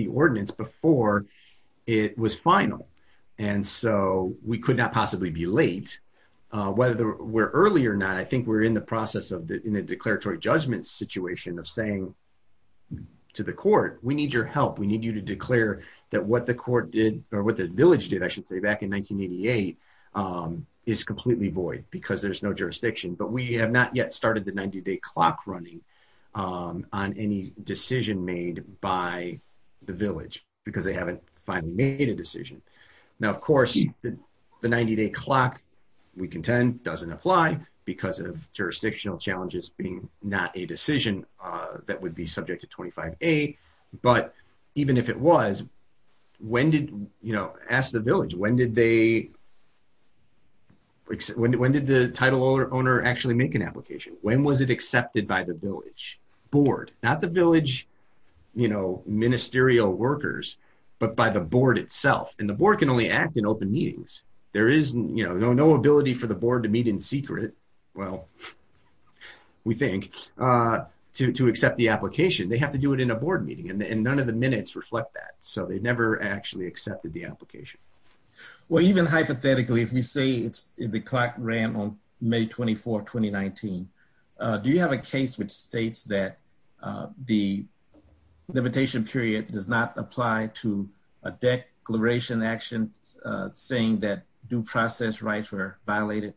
ordinance before it was final. And so we could not possibly be late. Whether we're early or not, I think we're in the process in a declaratory judgment situation of saying to the court, we need your help. We need you to declare that what the village did back in 1988 is completely void because there's no jurisdiction. But we have not yet started the 90-day clock running on any decision made by the village because they haven't finally made a decision. Now, of course, the 90-day clock, we contend, doesn't apply because of jurisdictional challenges being not a decision that would be subject to 25A. But even if it was, ask the village, when did the title owner actually make an application? When was it accepted by the village? Board. Not the village ministerial workers, but by the board itself. And the board can only act in open meetings. There is no ability for the board to meet in secret, well, we think, to accept the application. They have to do it in a board meeting, and none of the minutes reflect that. So they never actually accepted the application. Well, even hypothetically, if you say the clock ran on May 24, 2019, do you have a case which states that the limitation period does not apply to a declaration action saying that due process rights are violated?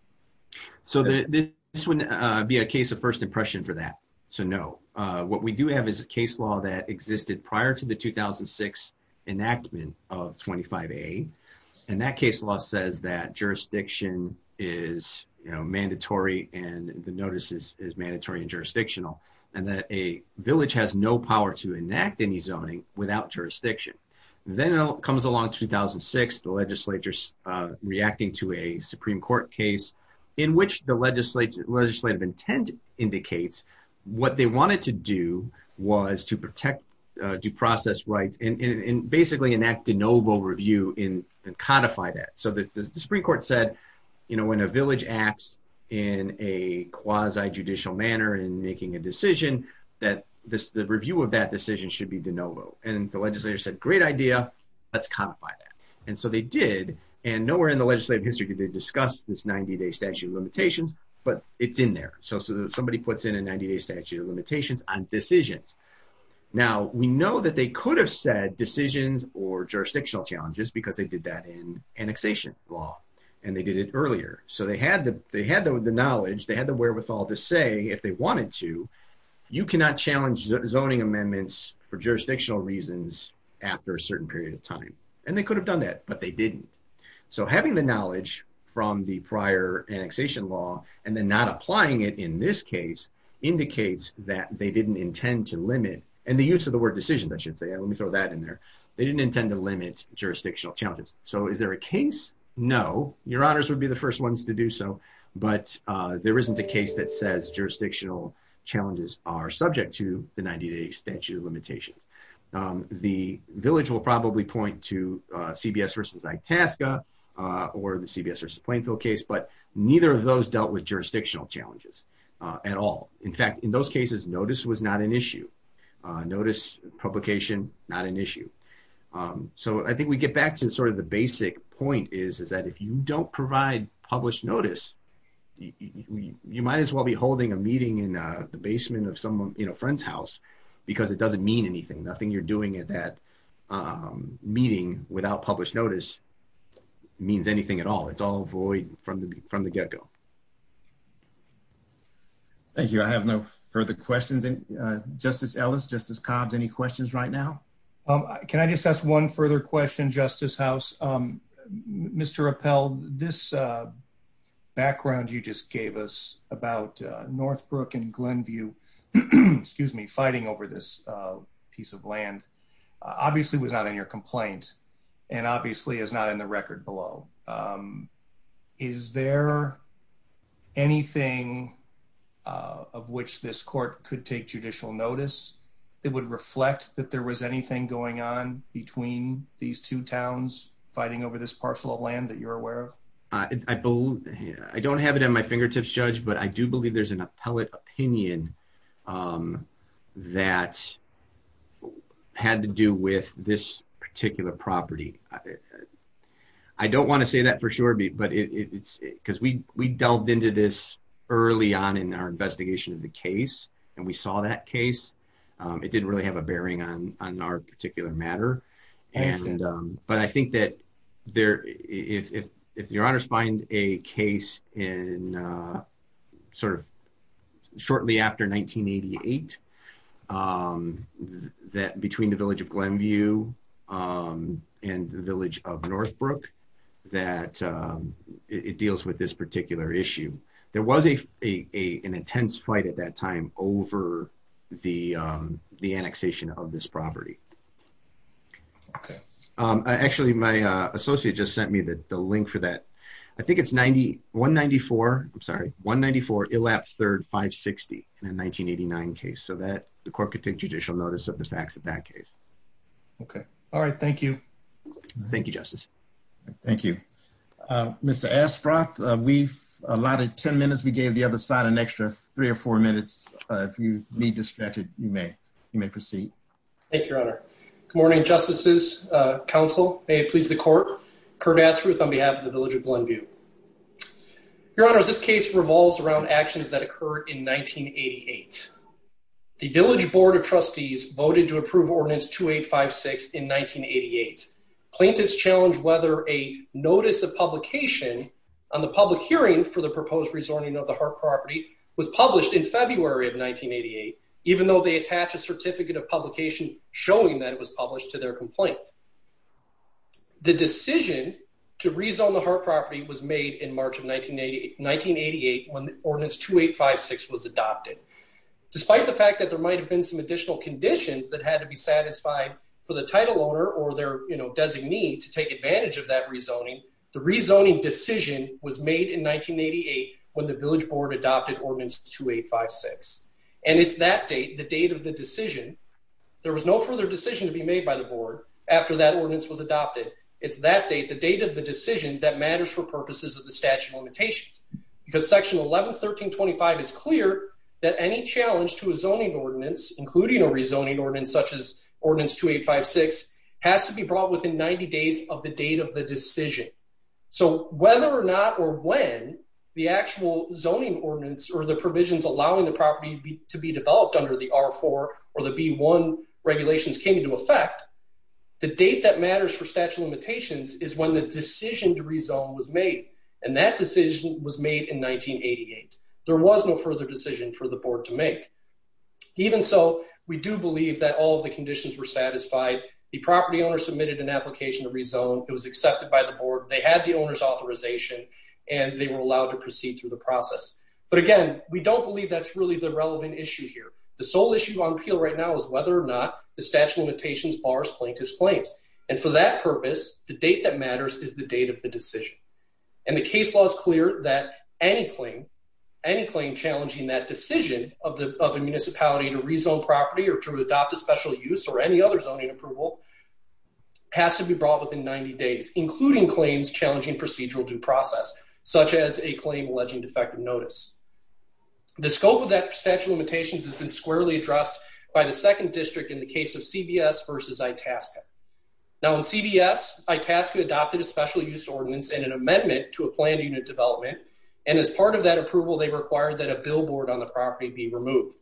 So this wouldn't be a case of first impression for that. So no. What we do have is a case law that existed prior to the 2006 enactment of 25A, and that case law says that jurisdiction is mandatory and the notice is mandatory and jurisdictional, and that a village has no power to enact any zoning without jurisdiction. Then it comes along 2006, the legislature reacting to a Supreme Court case in which the legislative intent indicates what they wanted to do was to protect due process rights and basically enact de novo review and codify that. So the Supreme Court said, when a village acts in a quasi-judicial manner in making a decision, that the review of that decision should be de novo. And the legislature said, great idea, let's codify that. And so they did, and nowhere in the legislative history did they discuss this 90-day statute of limitations, but it's in there. So somebody puts in a 90-day statute of limitations on decisions. Now, we know that they could have said decisions or jurisdictional challenges because they did that in annexation law, and they did it earlier. So they had the knowledge, they had the wherewithal to say, if they wanted to, you cannot challenge zoning amendments for jurisdictional reasons after a certain period of time. And they could have done that, but they didn't. So having the knowledge from the prior annexation law and then not applying it in this case indicates that they didn't intend to limit, and the use of the word decision, I should say, let me throw that in there, they didn't intend to limit jurisdictional challenges. So is there a case? No. Your honors would be the first ones to do so, but there isn't a case that says jurisdictional challenges are subject to the 90-day statute of limitations. The village will probably point to CBS versus Itasca or the CBS versus Plainfield case, but neither of those dealt with jurisdictional challenges at all. In fact, in those cases, notice was not an issue. Notice, publication, not an issue. So I think we get back to sort of the basic point is that if you don't provide published notice, you might as well be holding a meeting in the basement of someone's friend's house because it doesn't mean anything. Nothing you're doing in that meeting without published notice means anything at all. It's all void from the get-go. Thank you. I have no further questions. Justice Ellis, Justice Cobbs, any questions right now? Can I just ask one further question, Justice House? Mr. Appell, this background you just gave us about Northbrook and Glenview fighting over this piece of land obviously was not in your complaint and obviously is not in the record below. Is there anything of which this court could take judicial notice that would reflect that there was anything going on between these two towns fighting over this parcel of land that you're aware of? I don't have it in my fingertips, Judge, but I do believe there's an appellate opinion that had to do with this particular property. I don't want to say that for sure because we delved into this early on in our investigation of the case and we saw that case. It didn't really have a bearing on our particular matter. But I think that if your honors find a case shortly after 1988 between the village of Glenview and the village of Northbrook that it deals with this particular issue. There was an intense fight at that time over the annexation of this property. Actually, my associate just sent me the link for that. I think it's 194. I'm sorry. 194. 560 in the 1989 case so that the court could take judicial notice of the facts of that case. Okay. All right. Thank you. Thank you, Justice. Thank you. Mr. Asproth, we've allotted 10 minutes. We gave the other side an extra three or four minutes. If you need to stretch it, you may. You may proceed. Thank you, Your Honor. Good morning, Justices. Counsel, may it please the court. Kurt Asproth on behalf of the village of Glenview. Your Honor, this case revolves around actions that occurred in 1988. The village board of trustees voted to approve Ordinance 2856 in 1988. Plaintiffs challenged whether a notice of publication on the public hearing for the proposed rezoning of the Hart property was published in February of 1988, even though they attached a certificate of publication showing that it was published to their complaint. The decision to rezone the Hart property was made in March of 1988 when Ordinance 2856 was adopted. Despite the fact that there might have been some additional conditions that had to be satisfied for the title owner or their, you know, designee to take advantage of that rezoning, the rezoning decision was made in 1988 when the village board adopted Ordinance 2856. And it's that date, the date of the decision, there was no further decision to be made by the board after that ordinance was adopted. It's that date, the date of the decision that matters for purposes of the statute of limitations. Because Section 111325 is clear that any challenge to a zoning ordinance, including a rezoning ordinance such as Ordinance 2856, has to be brought within 90 days of the date of the decision. So whether or not or when the actual zoning ordinance or the provisions allowing the property to be developed under the R4 or the B1 regulations came into effect, the date that matters for statute of limitations is when the decision to rezone was made. And that decision was made in 1988. There was no further decision for the board to make. Even so, we do believe that all the conditions were satisfied. The property owner submitted an application to rezone. It was accepted by the board. They had the owner's authorization, and they were allowed to proceed through the process. But again, we don't believe that's really the relevant issue here. The sole issue on appeal right now is whether or not the statute of limitations bars plaintiff's claims. And for that purpose, the date that matters is the date of the decision. And the case law is clear that any claim, any claim challenging that decision of a municipality to rezone property or to adopt a special use or any other zoning approval, has to be brought within 90 days, including claims challenging procedural due process, such as a claim alleging defective notice. The scope of that statute of limitations has been squarely addressed by the second district in the case of CBS versus Itasca. Now, in CBS, Itasca adopted a special use ordinance and an amendment to a planned unit development. And as part of that approval, they required that a billboard on the property be removed.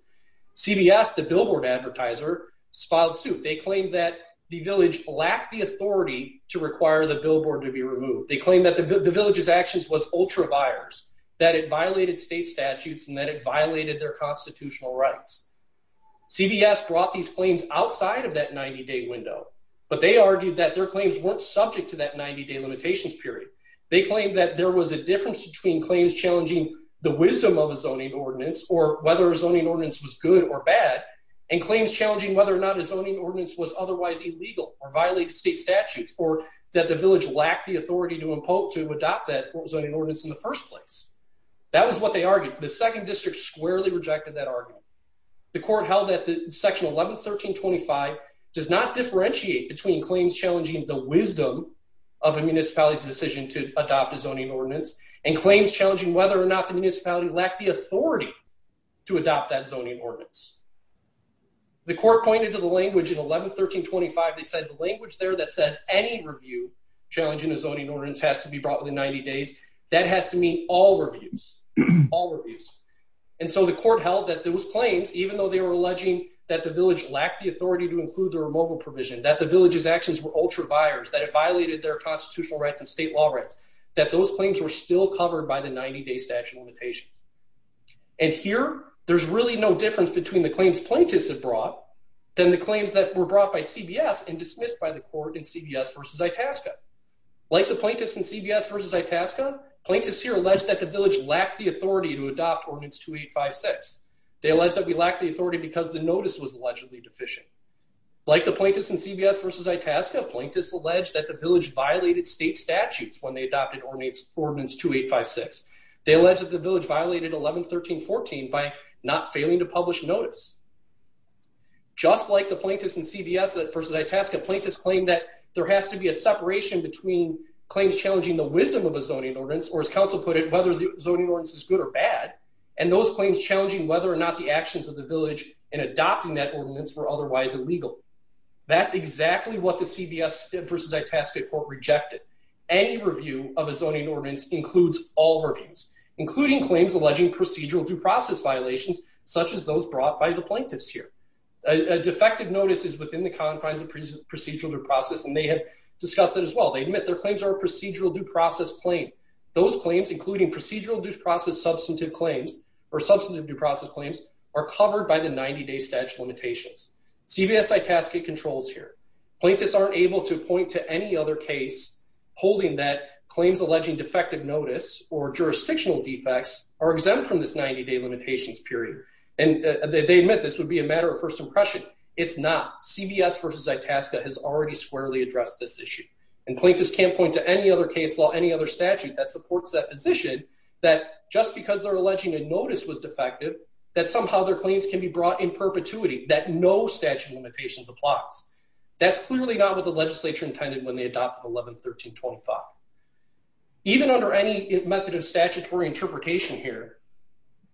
CBS, the billboard advertiser, filed suit. They claimed that the village lacked the authority to require the billboard to be removed. They claimed that the village's actions was ultra-buyers, that it violated state statutes, and that it violated their constitutional rights. CBS brought these claims outside of that 90-day window, but they argued that their claims weren't subject to that 90-day limitations period. They claimed that there was a difference between claims challenging the wisdom of a zoning ordinance or whether a zoning ordinance was good or bad, and claims challenging whether or not a zoning ordinance was otherwise illegal or violated state statutes, or that the village lacked the authority to adopt that zoning ordinance in the first place. That was what they argued. The second district squarely rejected that argument. The court held that Section 111325 does not differentiate between claims challenging the wisdom of a municipality's decision to adopt a zoning ordinance, and claims challenging whether or not the municipality lacked the authority to adopt that zoning ordinance. The court pointed to the language in 111325. They said the language there that says any review challenging a zoning ordinance has to be brought within 90 days, that has to mean all reviews, all reviews. And so the court held that those claims, even though they were alleging that the village lacked the authority to include the removal provision, that the village's actions were ultra-buyers, that it violated their constitutional rights and state law rights, that those claims were still covered by the 90-day statute limitation. And here, there's really no difference between the claims plaintiffs have brought and the claims that were brought by CBS and dismissed by the court in CBS v. Itasca. Like the plaintiffs in CBS v. Itasca, plaintiffs here alleged that the village lacked the authority to adopt Ordinance 2856. They alleged that we lacked the authority because the notice was allegedly deficient. Like the plaintiffs in CBS v. Itasca, plaintiffs alleged that the village violated state statutes when they adopted Ordinance 2856. They alleged that the village violated 1113.14 by not failing to publish notice. Just like the plaintiffs in CBS v. Itasca, plaintiffs claim that there has to be a separation between claims challenging the wisdom of a zoning ordinance, or as counsel put it, whether the zoning ordinance is good or bad, and those claims challenging whether or not the actions of the village in adopting that ordinance were otherwise illegal. That's exactly what the CBS v. Itasca court rejected. Any review of a zoning ordinance includes all workings, including claims alleging procedural due process violations, such as those brought by the plaintiffs here. A defective notice is within the confines of procedural due process, and they have discussed it as well. They admit their claims are a procedural due process claim. Those claims, including procedural due process substantive claims or substantive due process claims, are covered by the 90-day statute of limitations. CBS v. Itasca controls here. Plaintiffs aren't able to point to any other case holding that claims alleging defective notice or jurisdictional defects are exempt from this 90-day limitations period, and they admit this would be a matter of first impression. It's not. CBS v. Itasca has already squarely addressed this issue, and plaintiffs can't point to any other case law, any other statute that supports that position, that just because they're alleging a notice was defective, that somehow their claims can be brought in perpetuity, that no statute of limitations applies. That's clearly not what the legislature intended when they adopted 11-1325. Even under any method of statutory interpretation here,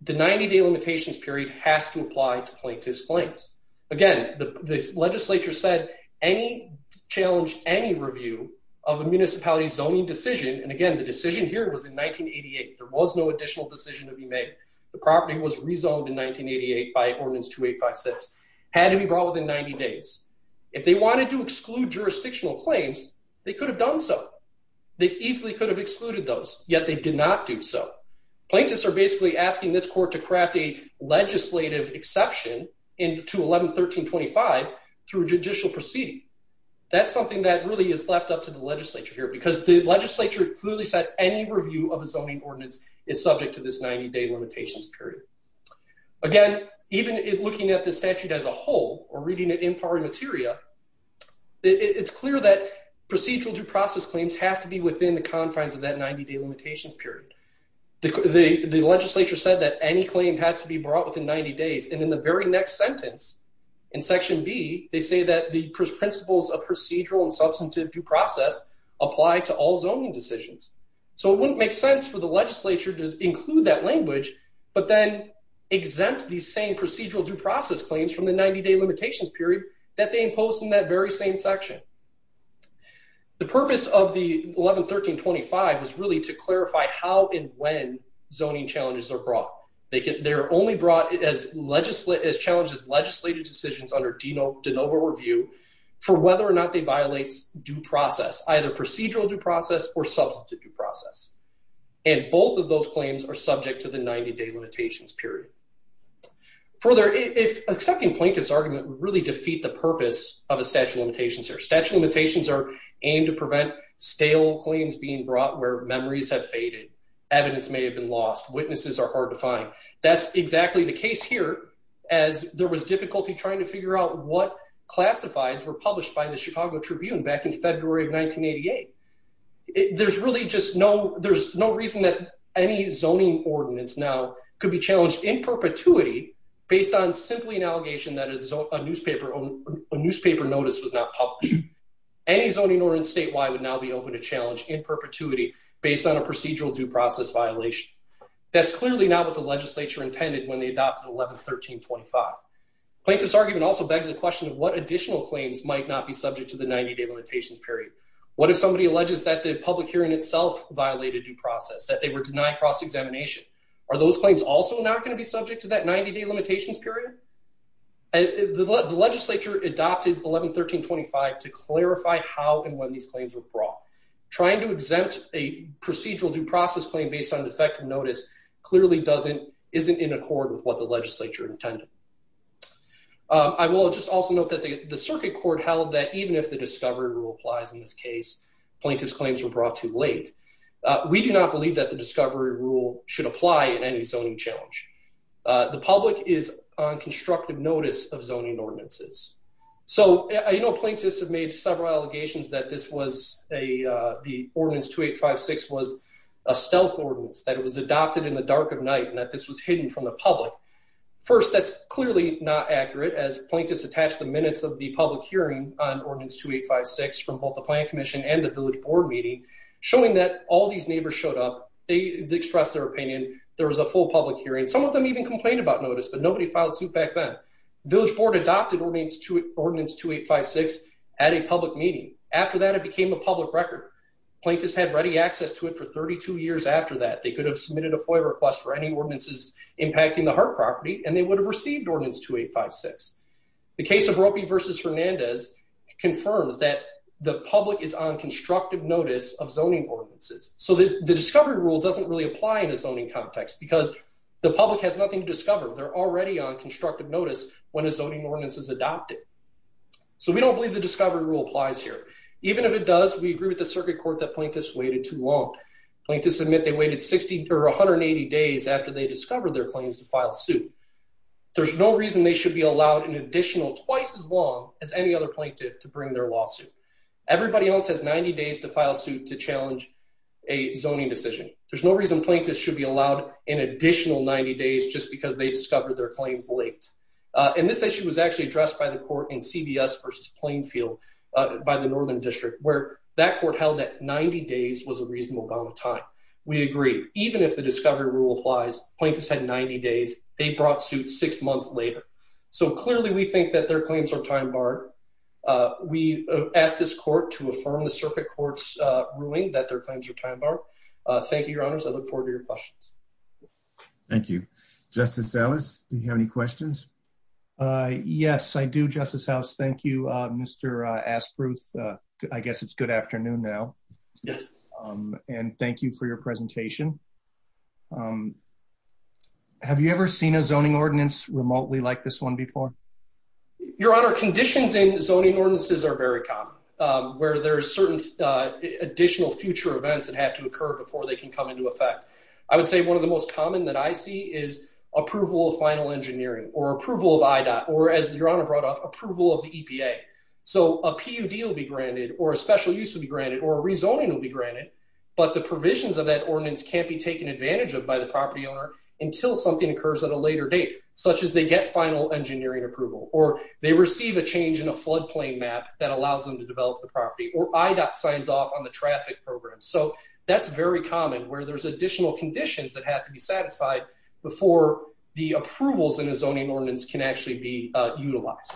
the 90-day limitations period has to apply to plaintiffs' claims. Again, the legislature said any challenge, any review of a municipality zoning decision, and again, the decision here was in 1988. There was no additional decision to be made. The property was rezoned in 1988 by Ordinance 2856. It had to be brought within 90 days. If they wanted to exclude jurisdictional claims, they could have done so. They easily could have excluded those, yet they did not do so. Plaintiffs are basically asking this court to craft a legislative exception to 11-1325 through judicial proceeding. That's something that really is left up to the legislature here, because the legislature clearly said any review of a zoning ordinance is subject to this 90-day limitations period. Again, even looking at the statute as a whole or reading it in power materia, it's clear that procedural due process claims have to be within the confines of that 90-day limitations period. The legislature said that any claim has to be brought within 90 days, and in the very next sentence in Section B, they say that the principles of procedural and substantive due process apply to all zoning decisions. So it wouldn't make sense for the legislature to include that language, but then exempt these same procedural due process claims from the 90-day limitations period that they imposed in that very same section. The purpose of the 11-1325 is really to clarify how and when zoning challenges are brought. They're only brought as challenges legislative decisions under de novo review for whether or not they violate due process, either procedural due process or substantive due process. And both of those claims are subject to the 90-day limitations period. Further, a second plaintiff's argument would really defeat the purpose of the statute of limitations here. Statute of limitations are aimed to prevent stale claims being brought where memories have faded, evidence may have been lost, witnesses are hard to find. That's exactly the case here, as there was difficulty trying to figure out what classifieds were published by the Chicago Tribune back in February of 1988. There's really just no reason that any zoning ordinance now could be challenged in perpetuity based on simply an allegation that a newspaper notice was not published. Any zoning ordinance statewide would now be open to challenge in perpetuity based on a procedural due process violation. That's clearly not what the legislature intended when they adopted 11-1325. Plaintiff's argument also begs the question of what additional claims might not be subject to the 90-day limitations period. What if somebody alleges that the public hearing itself violated due process, that they were denied cross-examination? Are those claims also not going to be subject to that 90-day limitations period? The legislature adopted 11-1325 to clarify how and when these claims were brought. Trying to exempt a procedural due process claim based on defective notice clearly isn't in accord with what the legislature intended. I will just also note that the circuit court held that even if the discovery rule applies in this case, plaintiff's claims were brought too late. We do not believe that the discovery rule should apply in any zoning challenge. The public is on constructive notice of zoning ordinances. I know plaintiffs have made several allegations that the Ordinance 2856 was a stealth ordinance, that it was adopted in the dark of night, and that this was hidden from the public. First, that's clearly not accurate, as plaintiffs attached the minutes of the public hearing on Ordinance 2856 from both the Planning Commission and the Village Board meeting, showing that all these neighbors showed up, they expressed their opinion, there was a full public hearing. Some of them even complained about notice, but nobody filed suit back then. Village Board adopted Ordinance 2856 at a public meeting. After that, it became a public record. Plaintiffs had ready access to it for 32 years after that. They could have submitted a FOIA request for any ordinances impacting the heart property, and they would have received Ordinance 2856. The case of Rokey v. Hernandez confirms that the public is on constructive notice of zoning ordinances. So the discovery rule doesn't really apply in a zoning context, because the public has nothing to discover. They're already on constructive notice when a zoning ordinance is adopted. So we don't believe the discovery rule applies here. Even if it does, we agree with the Circuit Court that plaintiffs waited too long. Plaintiffs admit they waited 60 or 180 days after they discovered their claims to file a suit. There's no reason they should be allowed an additional twice as long as any other plaintiff to bring their lawsuit. Everybody else has 90 days to file a suit to challenge a zoning decision. There's no reason plaintiffs should be allowed an additional 90 days just because they discovered their claims late. And this issue was actually addressed by the court in CVS v. Plainfield by the Northern District, where that court held that 90 days was a reasonable amount of time. We agree. Even if the discovery rule applies, plaintiffs had 90 days. They brought suits six months later. So clearly we think that their claims are time-barred. We ask this court to affirm the Circuit Court's ruling that their claims are time-barred. Thank you, Your Honors. I look forward to your questions. Thank you. Justice Ellis, do you have any questions? Yes, I do, Justice House. Thank you, Mr. Aspruth. I guess it's good afternoon now. Yes. And thank you for your presentation. Have you ever seen a zoning ordinance remotely like this one before? Your Honor, conditioning zoning ordinances are very common, where there are certain additional future events that have to occur before they can come into effect. I would say one of the most common that I see is approval of final engineering or approval of IDOT or, as Your Honor brought up, approval of the EPA. So a PUD will be granted, or a special use will be granted, or a rezoning will be granted, but the provisions of that ordinance can't be taken advantage of by the property owner until something occurs at a later date, such as they get final engineering approval, or they receive a change in a floodplain map that allows them to develop the property, or IDOT signs off on the traffic program. So that's very common, where there's additional conditions that have to be satisfied before the approvals in a zoning ordinance can actually be utilized.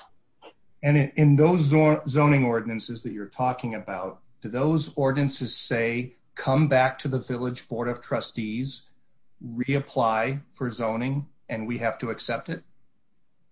And in those zoning ordinances that you're talking about, do those ordinances say, come back to the Village Board of Trustees, reapply for zoning, and we have to accept it?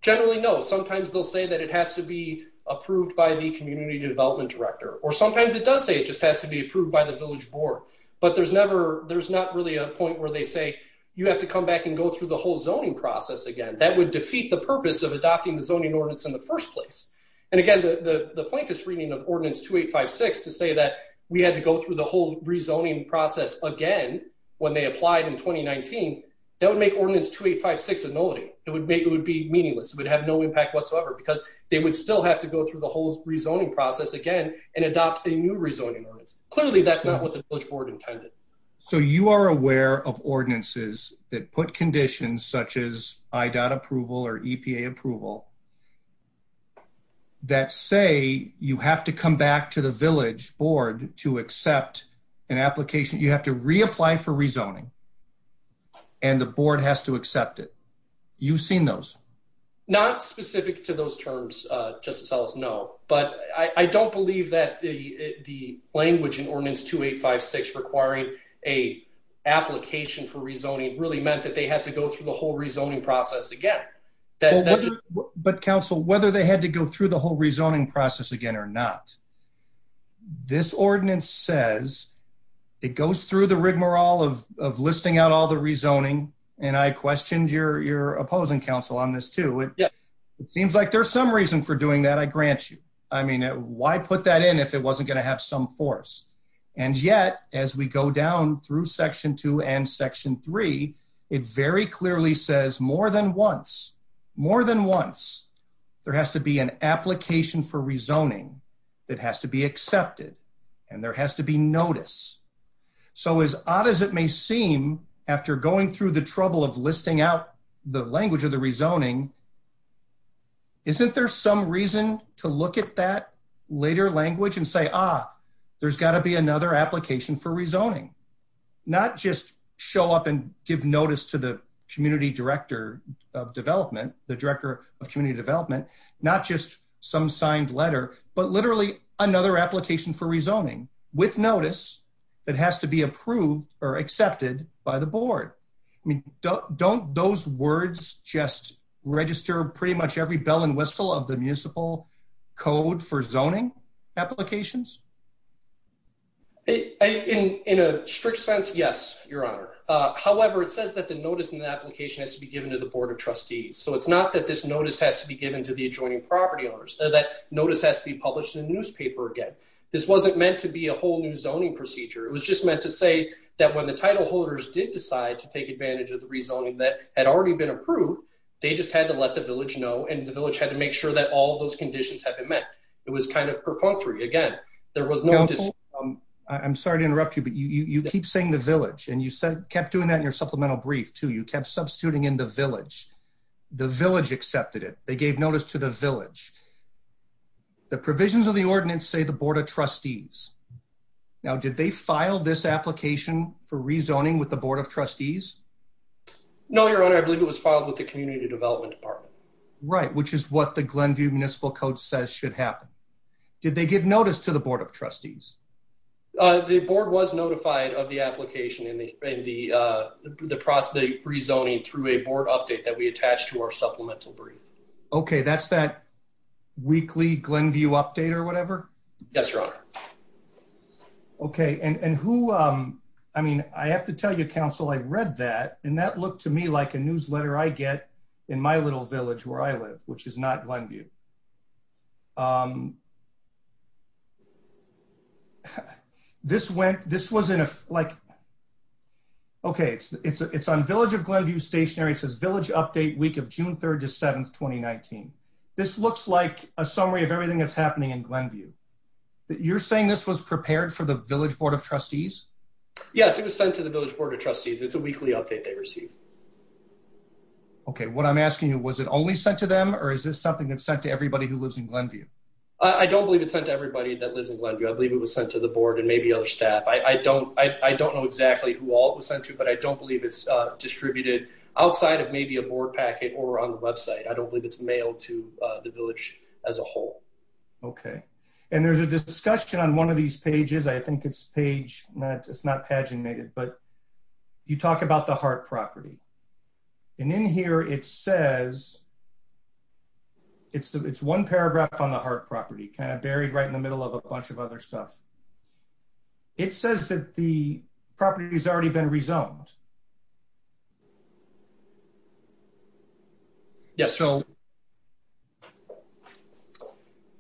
Generally, no. Sometimes they'll say that it has to be approved by the community development director, or sometimes it does say it just has to be approved by the Village Board, but there's not really a point where they say you have to come back and go through the whole zoning process again. That would defeat the purpose of adopting the zoning ordinance in the first place. And again, the plaintiff's reading of Ordinance 2856 to say that we had to go through the whole rezoning process again when they applied in 2019, that would make Ordinance 2856 a nullity. It would be meaningless. It would have no impact whatsoever because they would still have to go through the whole rezoning process again and adopt a new rezoning ordinance. Clearly, that's not what the Village Board intended. So you are aware of ordinances that put conditions such as IDOT approval or EPA approval that say you have to come back to the Village Board to accept an application, you have to reapply for rezoning, and the board has to accept it. You've seen those? Not specific to those terms, Justice Ellis, no. But I don't believe that the language in Ordinance 2856 requiring an application for rezoning really meant that they had to go through the whole rezoning process again. But, Counsel, whether they had to go through the whole rezoning process again or not, this ordinance says it goes through the rigmarole of listing out all the rezoning, and I questioned your opposing counsel on this, too. It seems like there's some reason for doing that, I grant you. I mean, why put that in if it wasn't going to have some force? And yet, as we go down through Section 2 and Section 3, it very clearly says more than once, more than once, there has to be an application for rezoning that has to be accepted. And there has to be notice. So as odd as it may seem, after going through the trouble of listing out the language of the rezoning, isn't there some reason to look at that later language and say, ah, there's got to be another application for rezoning? Not just show up and give notice to the Community Director of Development, the Director of Community Development, not just some signed letter, but literally another application for rezoning with notice that has to be approved or accepted by the Board. Don't those words just register pretty much every bell and whistle of the municipal code for zoning applications? In a strict sense, yes, Your Honor. However, it says that the notice in the application has to be given to the Board of Trustees. So it's not that this notice has to be given to the adjoining property owners. That notice has to be published in the newspaper again. This wasn't meant to be a whole new zoning procedure. It was just meant to say that when the title holders did decide to take advantage of the rezoning that had already been approved, they just had to let the village know, and the village had to make sure that all those conditions had been met. It was kind of preposterous, again. I'm sorry to interrupt you, but you keep saying the village, and you kept doing that in your supplemental brief, too. You kept substituting in the village. The village accepted it. They gave notice to the village. The provisions of the ordinance say the Board of Trustees. Now, did they file this application for rezoning with the Board of Trustees? No, Your Honor. I believe it was filed with the Community Development Department. Right, which is what the Glenview Municipal Code says should happen. Did they give notice to the Board of Trustees? The Board was notified of the application and the process of rezoning through a Board update that we attached to our supplemental brief. Okay, that's that weekly Glenview update or whatever? Yes, Your Honor. Okay, and who, I mean, I have to tell you, Counsel, I read that, and that looked to me like a newsletter I get in my little village where I live, which is not Glenview. This was in a, like, okay, it's on Village of Glenview Stationary. It says Village Update Week of June 3rd to 7th, 2019. This looks like a summary of everything that's happening in Glenview. You're saying this was prepared for the Village Board of Trustees? Yes, it was sent to the Village Board of Trustees. It's a weekly update they received. Okay, what I'm asking you, was it only sent to them, or is this something that's sent to everybody who lives in Glenview? I don't believe it's sent to everybody that lives in Glenview. I believe it was sent to the Board and maybe other staff. I don't know exactly who all it was sent to, but I don't believe it's distributed outside of maybe a Board packet or on the website. I don't believe it's mailed to the Village as a whole. Okay, and there's a discussion on one of these pages. I think it's page, it's not paginated, but you talk about the heart property. And in here it says, it's one paragraph on the heart property, kind of buried right in the middle of a bunch of other stuff. It says that the property's already been rezoned.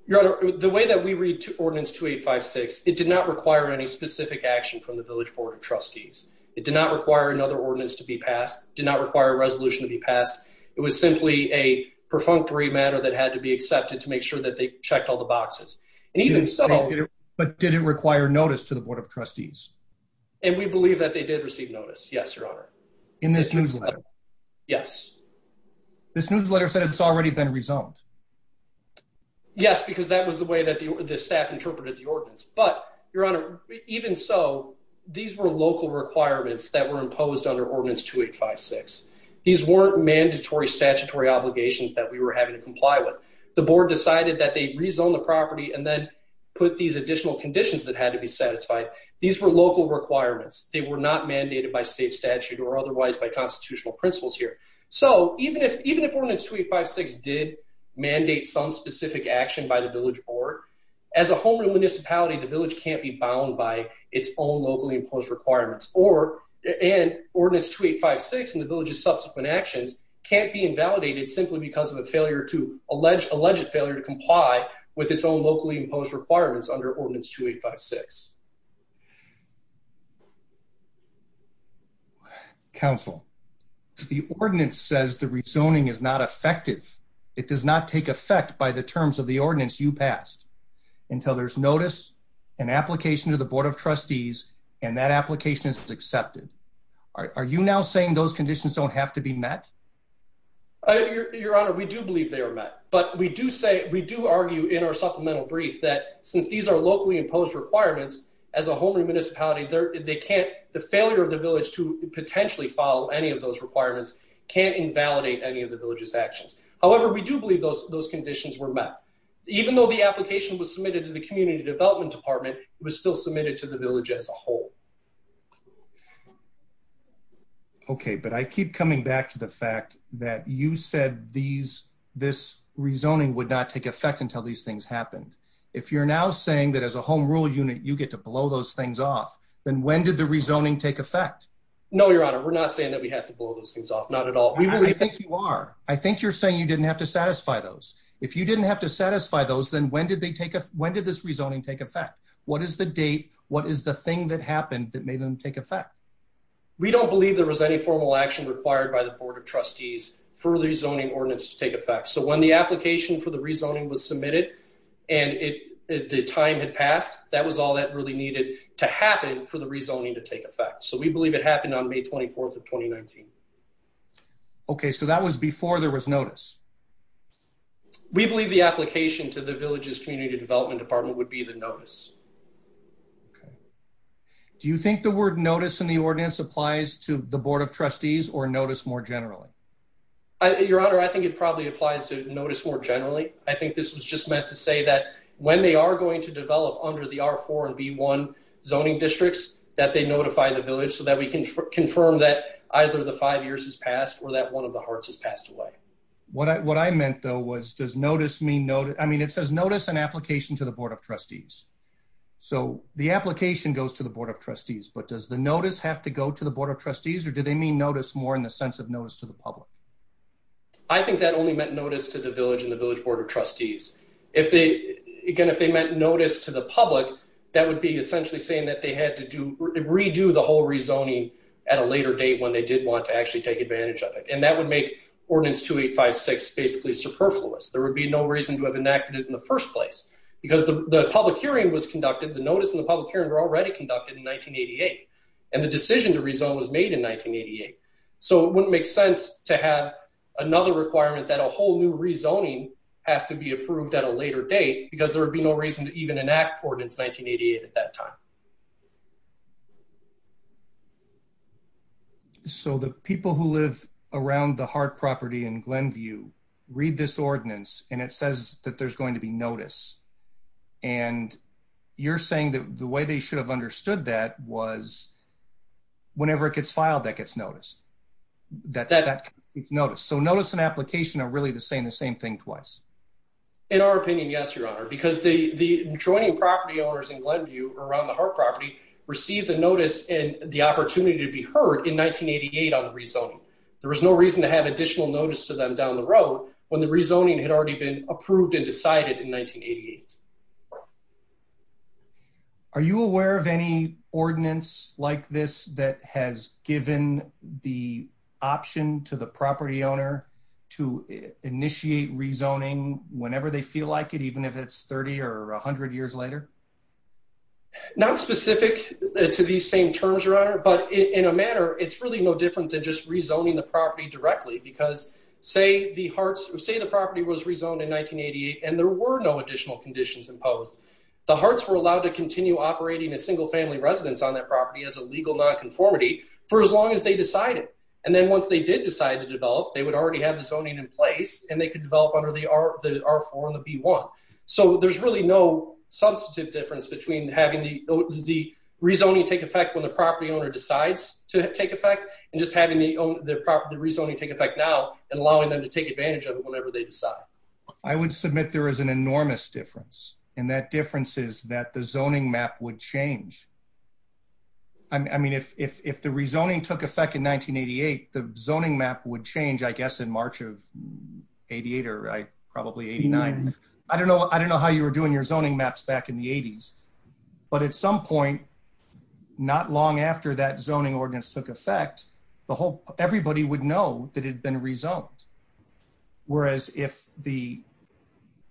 The way that we read Ordinance 2856, it did not require any specific action from the Village Board of Trustees. It did not require another ordinance to be passed. It did not require a resolution to be passed. It was simply a perfunctory matter that had to be accepted to make sure that they checked all the boxes. But did it require notice to the Board of Trustees? And we believe that they did receive notice, yes. In this newsletter? Yes. This newsletter said it's already been rezoned. Yes, because that was the way that the staff interpreted the ordinance. But, Your Honor, even so, these were local requirements that were imposed under Ordinance 2856. These weren't mandatory statutory obligations that we were having to comply with. The Board decided that they'd rezone the property and then put these additional conditions that had to be satisfied. These were local requirements. They were not mandated by state statute or otherwise by constitutional principles here. So even if Ordinance 2856 did mandate some specific action by the Village Board, as a home and municipality, the village can't be bound by its own locally imposed requirements. Or, and Ordinance 2856 and the village's subsequent actions can't be invalidated simply because of a failure to, alleged failure to comply with its own locally imposed requirements under Ordinance 2856. Counsel, the ordinance says that rezoning is not effective. It does not take effect by the terms of the ordinance you passed until there's notice, an application to the Board of Trustees, and that application is accepted. Are you now saying those conditions don't have to be met? Your Honor, we do believe they are met. But we do say, we do argue in our supplemental brief that since these are locally imposed requirements, as a home and municipality, they can't, the failure of the village to potentially follow any of those requirements can't invalidate any of the village's actions. However, we do believe those conditions were met. Even though the application was submitted to the Community Development Department, it was still submitted to the village as a whole. Okay, but I keep coming back to the fact that you said these, this rezoning would not take effect until these things happen. If you're now saying that as a home rule unit, you get to blow those things off, then when did the rezoning take effect? No, Your Honor, we're not saying that we have to blow those things off, not at all. I think you are. I think you're saying you didn't have to satisfy those. If you didn't have to satisfy those, then when did they take, when did this rezoning take effect? What is the date? What is the thing that happened that made them take effect? We don't believe there was any formal action required by the Board of Trustees for the rezoning ordinance to take effect. So when the application for the rezoning was submitted, and the time had passed, that was all that really needed to happen for the rezoning to take effect. So we believe it happened on May 24th of 2019. Okay, so that was before there was notice. We believe the application to the Village's Community Development Department would be the notice. Do you think the word notice in the ordinance applies to the Board of Trustees or notice more generally? Your Honor, I think it probably applies to notice more generally. I think this was just meant to say that when they are going to develop under the R4 and V1 zoning districts, that they notify the Village so that we can confirm that either the five years has passed or that one of the hearts has passed away. What I meant, though, was does notice mean notice? I mean, it says notice an application to the Board of Trustees. So the application goes to the Board of Trustees, but does the notice have to go to the Board of Trustees, or do they mean notice more in the sense of notice to the public? I think that only meant notice to the Village and the Village Board of Trustees. Again, if they meant notice to the public, that would be essentially saying that they had to redo the whole rezoning at a later date when they did want to actually take advantage of it. And that would make Ordinance 2856 basically superfluous. There would be no reason to have enacted it in the first place. Because the public hearing was conducted, the notice and the public hearing were already conducted in 1988, and the decision to rezone was made in 1988. So it wouldn't make sense to have another requirement that a whole new rezoning has to be approved at a later date because there would be no reason to even enact Ordinance 1988 at that time. So the people who live around the Hart property in Glenview read this ordinance, and it says that there's going to be notice. And you're saying that the way they should have understood that was whenever it gets filed, that gets noticed. So notice and application are really the same thing twice. In our opinion, yes, Your Honor. Because the adjoining property owners in Glenview around the Hart property received a notice and the opportunity to be heard in 1988 on the rezoning. There was no reason to have additional notice to them down the road when the rezoning had already been approved and decided in 1988. Are you aware of any ordinance like this that has given the option to the property owner to initiate rezoning whenever they feel like it, even if it's 30 or 100 years later? Not specific to these same terms, Your Honor. But in a manner, it's really no different than just rezoning the property directly. Because say the property was rezoned in 1988 and there were no additional conditions imposed. The Harts were allowed to continue operating a single-family residence on that property as a legal nonconformity for as long as they decided. And then once they did decide to develop, they would already have the zoning in place, and they could develop under the R4 and the B1. So there's really no substantive difference between having the rezoning take effect when the property owner decides to take effect, and just having the rezoning take effect now and allowing them to take advantage of it whenever they decide. I would submit there is an enormous difference. And that difference is that the zoning map would change. I mean, if the rezoning took effect in 1988, the zoning map would change, I guess, in March of 88 or probably 89. I don't know how you were doing your zoning maps back in the 80s. But at some point, not long after that zoning ordinance took effect, everybody would know that it had been rezoned. Whereas if the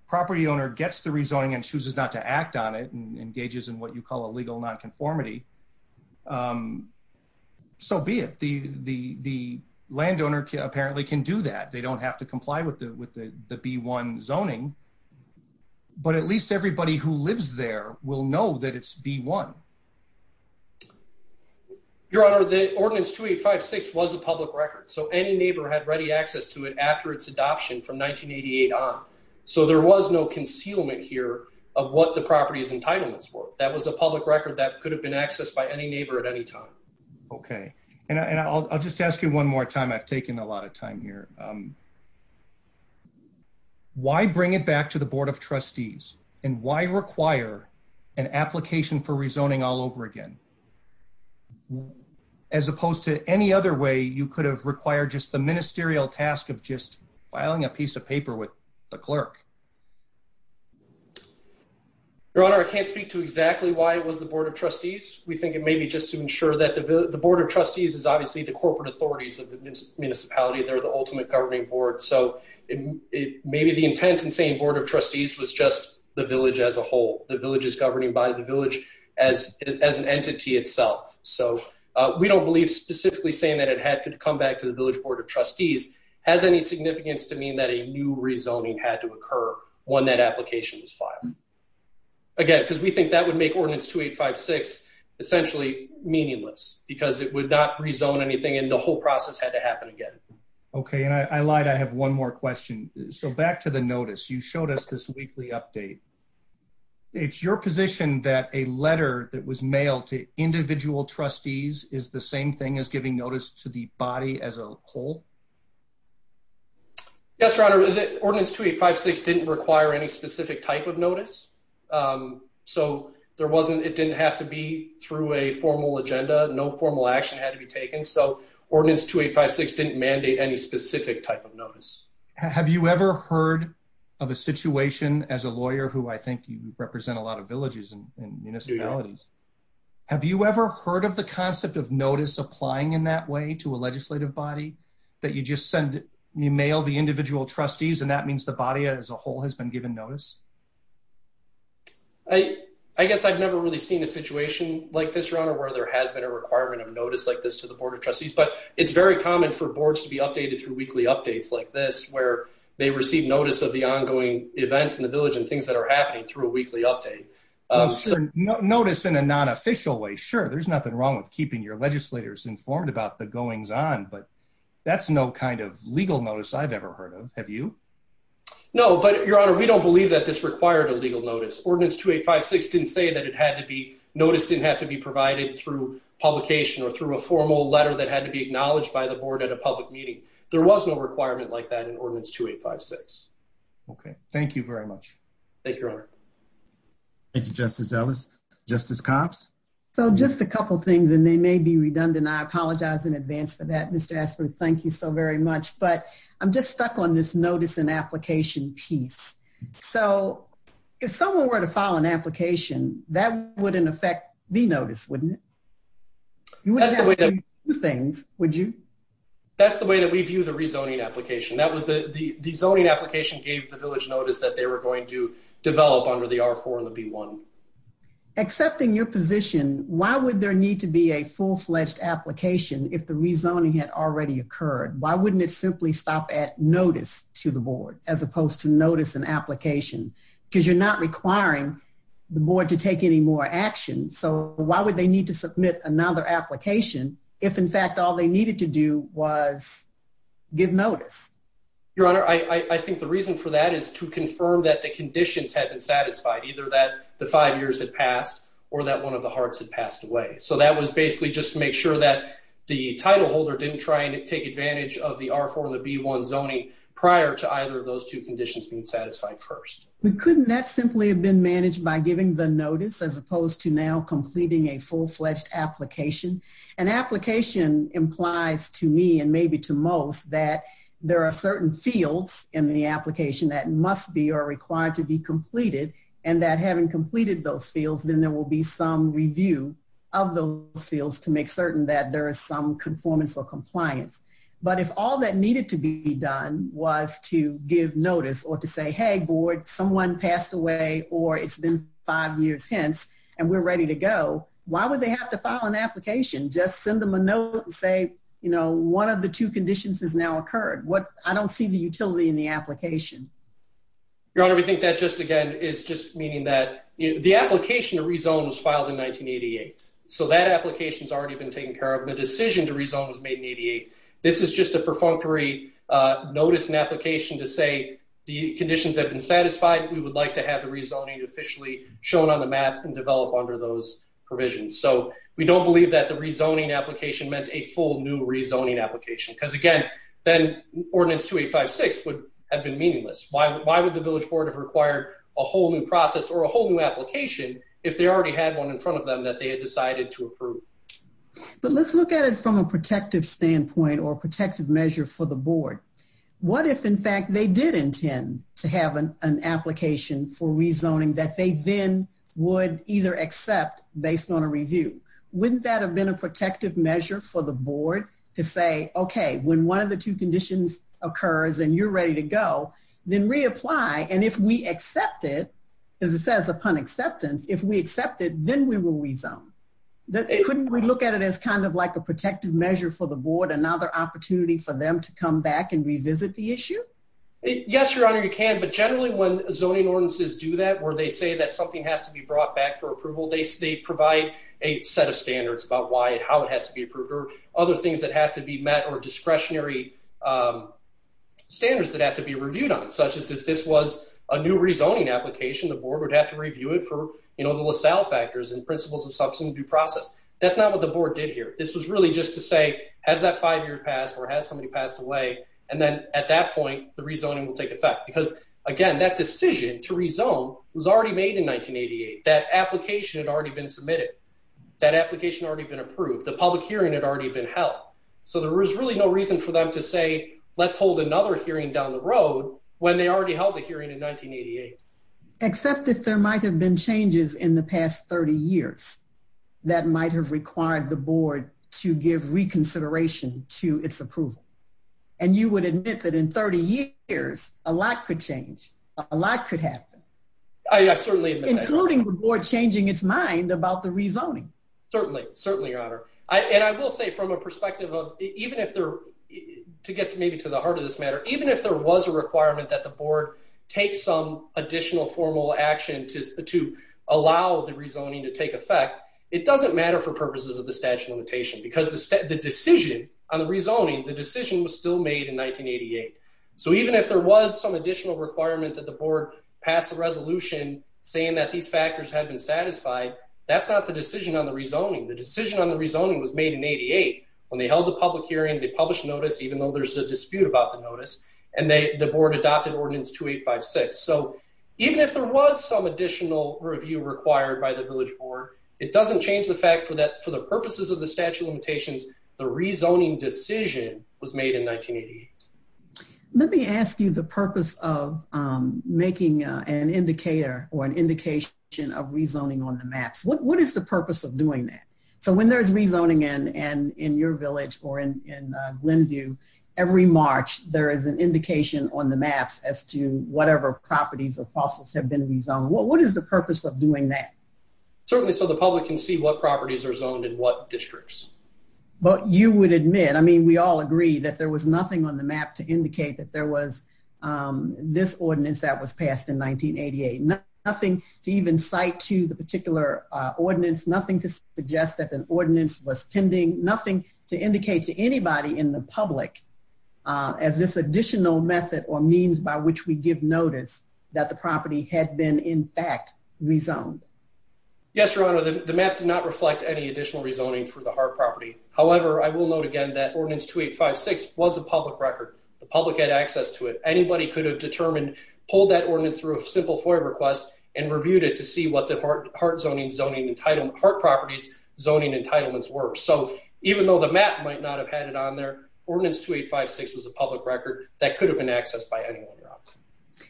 property owner gets the rezoning and chooses not to act on it and engages in what you call a legal nonconformity, so be it. The landowner apparently can do that. They don't have to comply with the B1 zoning. But at least everybody who lives there will know that it's B1. Your Honor, the Ordinance 2856 was a public record. So any neighbor had ready access to it after its adoption from 1988 on. So there was no concealment here of what the property's entitlements were. That was a public record that could have been accessed by any neighbor at any time. Okay. And I'll just ask you one more time. I'm taking a lot of time here. Why bring it back to the Board of Trustees? And why require an application for rezoning all over again? As opposed to any other way, you could have required just the ministerial task of just filing a piece of paper with the clerk. Your Honor, I can't speak to exactly why it was the Board of Trustees. We think it may be just to ensure that the Board of Trustees is obviously the corporate authorities of the municipality. They're the ultimate governing board. So maybe the intent in saying Board of Trustees was just the village as a whole. The village is governed by the village as an entity itself. So we don't believe specifically saying that it had to come back to the Village Board of Trustees has any significance to mean that a new rezoning had to occur when that application is filed. Again, because we think that would make Ordinance 2856 essentially meaningless. Because it would not rezone anything and the whole process had to happen again. Okay. And I lied. I have one more question. So back to the notice. You showed us this weekly update. It's your position that a letter that was mailed to individual trustees is the same thing as giving notice to the body as a whole? Yes, Your Honor. Ordinance 2856 didn't require any specific type of notice. So it didn't have to be through a formal agenda. No formal action had to be taken. So Ordinance 2856 didn't mandate any specific type of notice. Have you ever heard of a situation as a lawyer who I think you represent a lot of villages and municipalities. Have you ever heard of the concept of notice applying in that way to a legislative body? That you just mail the individual trustees and that means the body as a whole has been given notice? I guess I've never really seen a situation like this, Your Honor, where there has been a requirement of notice like this to the Board of Trustees. But it's very common for boards to be updated through weekly updates like this where they receive notice of the ongoing events in the village and things that are happening through a weekly update. Notice in a non-official way, sure. There's nothing wrong with keeping your legislators informed about the goings on. But that's no kind of legal notice I've ever heard of. Have you? No. But, Your Honor, we don't believe that this required a legal notice. Ordinance 2856 didn't say that notice didn't have to be provided through publication or through a formal letter that had to be acknowledged by the board at a public meeting. There was no requirement like that in Ordinance 2856. Okay. Thank you very much. Thank you, Your Honor. Thank you, Justice Ellis. Justice Copps? So, just a couple things, and they may be redundant. I apologize in advance for that. Mr. Asper, thank you so very much. But I'm just stuck on this notice and application piece. So, if someone were to file an application, that wouldn't affect the notice, wouldn't it? You wouldn't have to do two things, would you? That's the way that we view the rezoning application. The zoning application gave the village notice that they were going to develop under the R4 and the B1. Accepting your position, why would there need to be a full-fledged application if the rezoning had already occurred? Why wouldn't it simply stop at notice to the board as opposed to notice and application? Because you're not requiring the board to take any more action. So, why would they need to submit another application if, in fact, all they needed to do was give notice? Your Honor, I think the reason for that is to confirm that the conditions had been satisfied, either that the five years had passed or that one of the hearts had passed away. So, that was basically just to make sure that the title holder didn't try and take advantage of the R4 and the B1 zoning prior to either of those two conditions being satisfied first. Couldn't that simply have been managed by giving the notice as opposed to now completing a full-fledged application? An application implies to me and maybe to most that there are certain fields in the application that must be or are required to be completed and that having completed those fields, then there will be some review of those fields to make certain that there is some conformance or compliance. But if all that needed to be done was to give notice or to say, hey, board, someone passed away or it's been five years since and we're ready to go, why would they have to file an application? Just send them a note and say, you know, one of the two conditions has now occurred. I don't see the utility in the application. Your Honor, we think that just, again, is just meaning that the application to rezone was filed in 1988. So, that application has already been taken care of. The decision to rezone was made in 1988. This is just a perfunctory notice and application to say the conditions have been satisfied. We would like to have the rezoning officially shown on the map and develop under those provisions. So, we don't believe that the rezoning application meant a full new rezoning application. Because, again, then Ordinance 2856 would have been meaningless. Why would the village board have required a whole new process or a whole new application if they already had one in front of them that they had decided to approve? But let's look at it from a protective standpoint or a protective measure for the board. What if, in fact, they did intend to have an application for rezoning that they then would either accept based on a review? Wouldn't that have been a protective measure for the board to say, okay, when one of the two conditions occurs and you're ready to go, then reapply. And if we accept it, as it says upon acceptance, if we accept it, then we will rezone. Couldn't we look at it as kind of like a protective measure for the board, another opportunity for them to come back and revisit the issue? Yes, Your Honor, you can. But generally when zoning ordinances do that or they say that something has to be brought back for approval, they provide a set of standards about why and how it has to be approved. Or other things that have to be met or discretionary standards that have to be reviewed on it, such as if this was a new rezoning application, the board would have to review it for the LaSalle factors and principles of substantive due process. That's not what the board did here. This was really just to say, has that five-year passed or has somebody passed away, and then at that point the rezoning will take effect. Because, again, that decision to rezone was already made in 1988. That application had already been submitted. That application had already been approved. The public hearing had already been held. So there was really no reason for them to say, let's hold another hearing down the road when they already held a hearing in 1988. Except that there might have been changes in the past 30 years that might have required the board to give reconsideration to its approval. And you would admit that in 30 years, a lot could change. A lot could happen. Including the board changing its mind about the rezoning. Certainly. Certainly, Your Honor. And I will say from a perspective of, even if there, to get maybe to the heart of this matter, even if there was a requirement that the board take some additional formal action to allow the rezoning to take effect, it doesn't matter for purposes of the statute of limitations. Because the decision on the rezoning, the decision was still made in 1988. So even if there was some additional requirement that the board pass a resolution saying that these factors had been satisfied, that's not the decision on the rezoning. The decision on the rezoning was made in 88. When they held the public hearing, they published notice, even though there's a dispute about the notice. And the board adopted ordinance 2856. So even if there was some additional review required by the village board, it doesn't change the fact that for the purposes of the statute of limitations, the rezoning decision was made in 1988. Let me ask you the purpose of making an indicator or an indication of rezoning on the maps. What is the purpose of doing that? So when there's rezoning in your village or in Glenview, every March there is an indication on the maps as to whatever properties or fossils have been rezoned. What is the purpose of doing that? Certainly so the public can see what properties are zoned in what districts. But you would admit, I mean, we all agree that there was nothing on the map to indicate that there was this ordinance that was passed in 1988. Nothing to even cite to the particular ordinance. Nothing to suggest that the ordinance was pending. Nothing to indicate to anybody in the public as this additional method or means by which we give notice that the property had been in fact rezoned. Yes, Your Honor. The map did not reflect any additional rezoning for the Hart property. However, I will note again that ordinance 2856 was a public record. The public had access to it. Anybody could have determined, pulled that ordinance through a simple FOIA request and reviewed it to see what the Hart properties zoning entitlements were. So even though the map might not have had it on there, ordinance 2856 was a public record that could have been accessed by anyone else.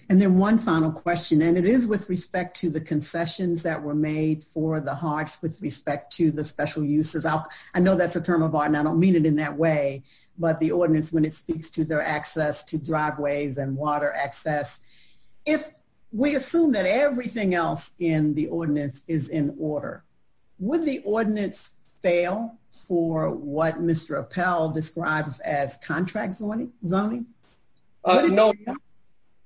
And then one final question, and it is with respect to the concessions that were made for the Harts with respect to the special uses. I know that's a term of art and I don't mean it in that way, but the ordinance when it speaks to their access to driveways and water access. If we assume that everything else in the ordinance is in order, would the ordinance fail for what Mr. Appel describes as contract zoning? No.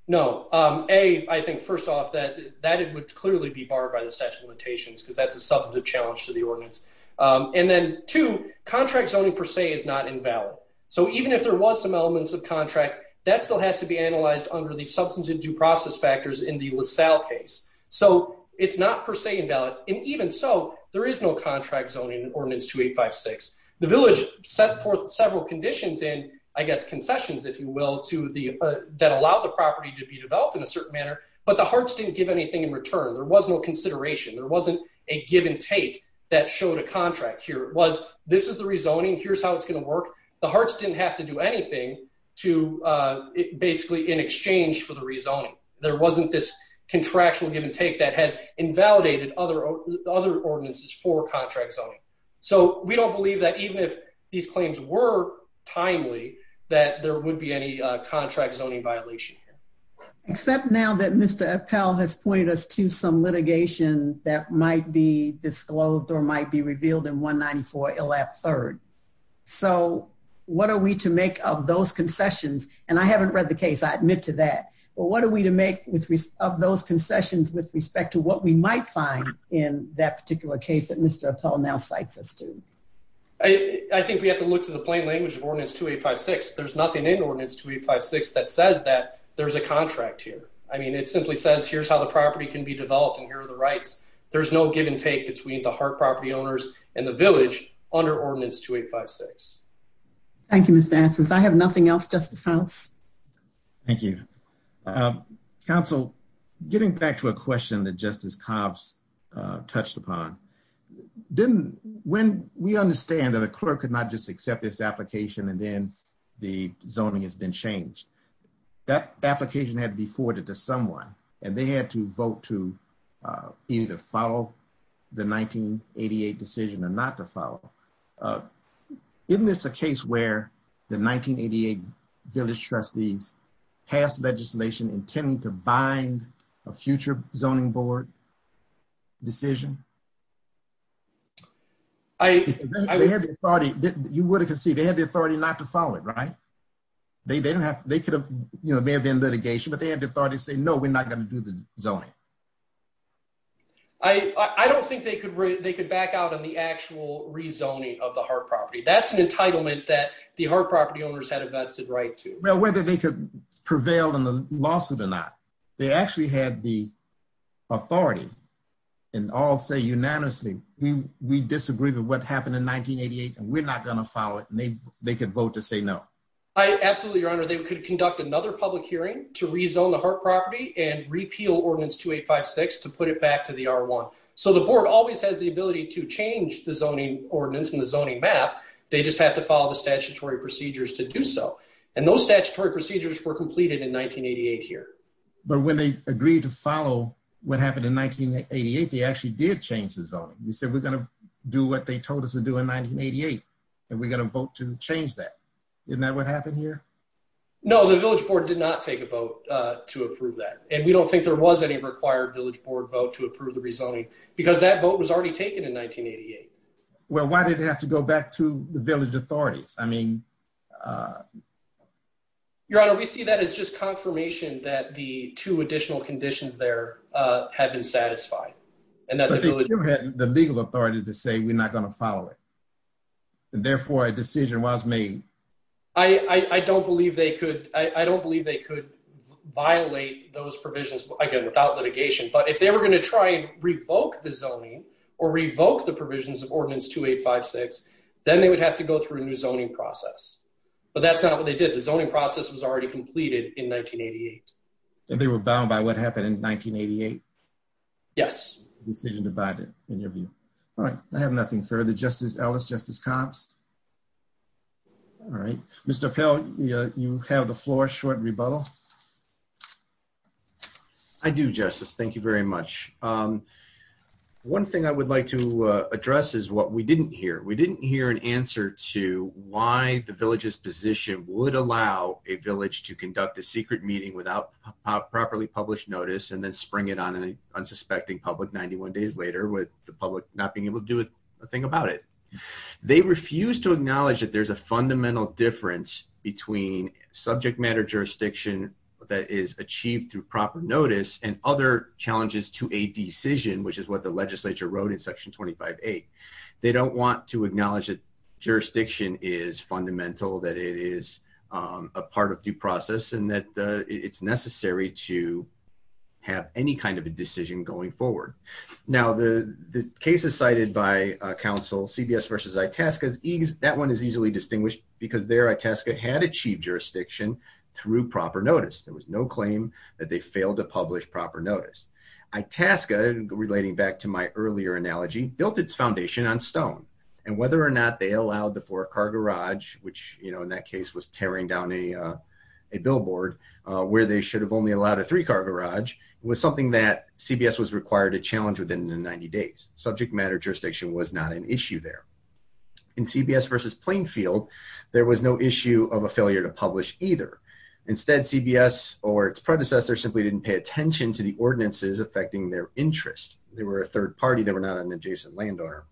No. A, I think first off that it would clearly be barred by the section limitations because that's a substantive challenge to the ordinance. And then two, contract zoning per se is not invalid. So even if there was some elements of contract, that still has to be analyzed under the substance and due process factors in the LaSalle case. So it's not per se invalid. And even so, there is no contract zoning in ordinance 2856. The village set forth several conditions and I guess concessions, if you will, that allow the property to be developed in a certain manner. But the Harts didn't give anything in return. There was no consideration. There wasn't a give and take that showed a contract here. It was this is the rezoning, here's how it's going to work. The Harts didn't have to do anything to basically in exchange for the rezoning. There wasn't this contractual give and take that has invalidated other ordinances for contract zoning. So we don't believe that even if these claims were timely, that there would be any contract zoning violation here. Except now that Mr. Appel has pointed us to some litigation that might be disclosed or might be revealed in 194LF3rd. So what are we to make of those concessions? And I haven't read the case. I admit to that. But what are we to make of those concessions with respect to what we might find in that particular case that Mr. Appel now cites us to? I think we have to look to the plain language of Ordinance 2856. There's nothing in Ordinance 2856 that says that there's a contract here. I mean, it simply says here's how the property can be developed and here are the rights. There's no give and take between the Hart property owners and the village under Ordinance 2856. Thank you, Mr. Atkins. I have nothing else, Justice House. Thank you. Counsel, getting back to a question that Justice Cobbs touched upon, when we understand that a clerk could not just accept this application and then the zoning has been changed, that application had to be forwarded to someone, and they had to vote to either follow the 1988 decision or not to follow. Isn't this a case where the 1988 village trustees passed legislation intending to bind a future zoning board decision? You would have conceded they had the authority not to follow it, right? There may have been litigation, but they had the authority to say, no, we're not going to do the zoning. I don't think they could back out on the actual rezoning of the Hart property. That's an entitlement that the Hart property owners had a vested right to. Well, whether they could prevail in the lawsuit or not, they actually had the authority and all say unanimously, we disagree with what happened in 1988 and we're not going to follow it. And they could vote to say no. Absolutely, Your Honor. They could conduct another public hearing to rezone the Hart property and repeal Ordinance 2856 to put it back to the R1. So the board always has the ability to change the zoning ordinance and the zoning map. They just have to follow the statutory procedures to do so. And those statutory procedures were completed in 1988 here. But when they agreed to follow what happened in 1988, they actually did change the zoning. They said, we're going to do what they told us to do in 1988 and we're going to vote to change that. Isn't that what happened here? No, the village board did not take a vote to approve that. And we don't think there was any required village board vote to approve the rezoning because that vote was already taken in 1988. Well, why did it have to go back to the village authorities? I mean... Your Honor, we see that as just confirmation that the two additional conditions there have been satisfied. You had the legal authority to say, we're not going to follow it. Therefore, a decision was made. I don't believe they could violate those provisions without litigation. But if they were going to try and revoke the zoning or revoke the provisions of Ordinance 2856, then they would have to go through a new zoning process. But that's not what they did. The zoning process was already completed in 1988. And they were bound by what happened in 1988? Yes. I have nothing further. Justice Ellis, Justice Cox? All right. Mr. Pell, you have the floor, short rebuttal. I do, Justice. Thank you very much. One thing I would like to address is what we didn't hear. We didn't hear an answer to why the village's position would allow a village to conduct a secret meeting without properly published notice and then spring it on an unsuspecting public 91 days later with the public not being able to do a thing about it. They refuse to acknowledge that there's a fundamental difference between subject matter jurisdiction that is achieved through proper notice and other challenges to a decision, which is what the legislature wrote in Section 25A. They don't want to acknowledge that jurisdiction is fundamental, that it is a part of due process, and that it's necessary to have any kind of a decision going forward. Now, the cases cited by counsel, CBS versus Itasca, that one is easily distinguished because there Itasca had achieved jurisdiction through proper notice. There was no claim that they failed to publish proper notice. Itasca, relating back to my earlier analogy, built its foundation on stone. And whether or not they allowed the four-car garage, which in that case was tearing down a billboard where they should have only allowed a three-car garage, was something that CBS was required to challenge within the 90 days. Subject matter jurisdiction was not an issue there. In CBS versus Plainfield, there was no issue of a failure to publish either. Instead, CBS or its predecessors simply didn't pay attention to the ordinances affecting their interests. They were a third party. They were not an adjacent landowner.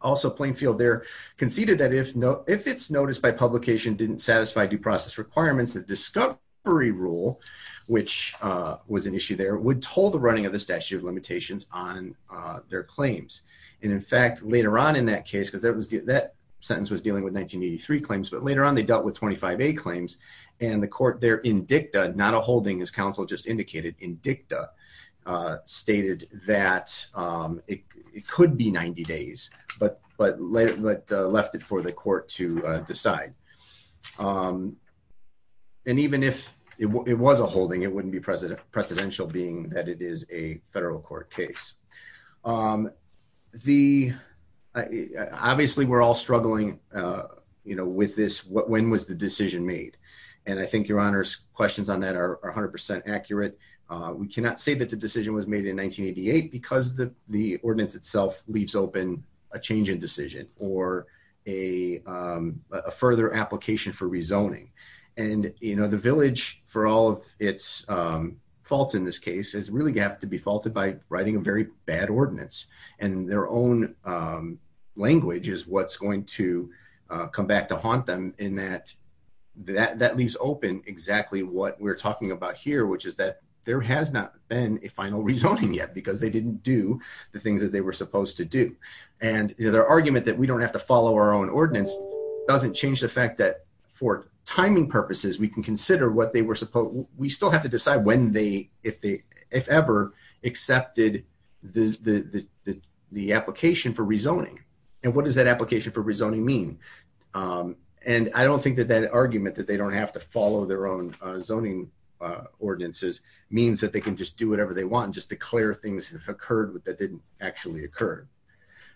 Also, Plainfield there conceded that if its notice by publication didn't satisfy due process requirements, the discovery rule, which was an issue there, would toll the running of the statute of limitations on their claims. And in fact, later on in that case, because that sentence was dealing with 1983 claims, but later on they dealt with 25A claims. And the court there in dicta, not a holding as counsel just indicated, in dicta, stated that it could be 90 days, but left it for the court to decide. And even if it was a holding, it wouldn't be precedential being that it is a federal court case. Obviously, we're all struggling with this, when was the decision made? And I think your Honor's questions on that are 100% accurate. We cannot say that the decision was made in 1988 because the ordinance itself leaves open a change in decision or a further application for rezoning. And the village, for all of its faults in this case, is really going to have to be faulted by writing a very bad ordinance. And their own language is what's going to come back to haunt them in that that leaves open exactly what we're talking about here, which is that there has not been a final rezoning yet because they didn't do the things that they were supposed to do. And their argument that we don't have to follow our own ordinance doesn't change the fact that for timing purposes, we can consider what they were supposed, we still have to decide when they, if ever, accepted the application for rezoning. And what does that application for rezoning mean? And I don't think that that argument that they don't have to follow their own zoning ordinances means that they can just do whatever they want, just declare things that occurred that didn't actually occur.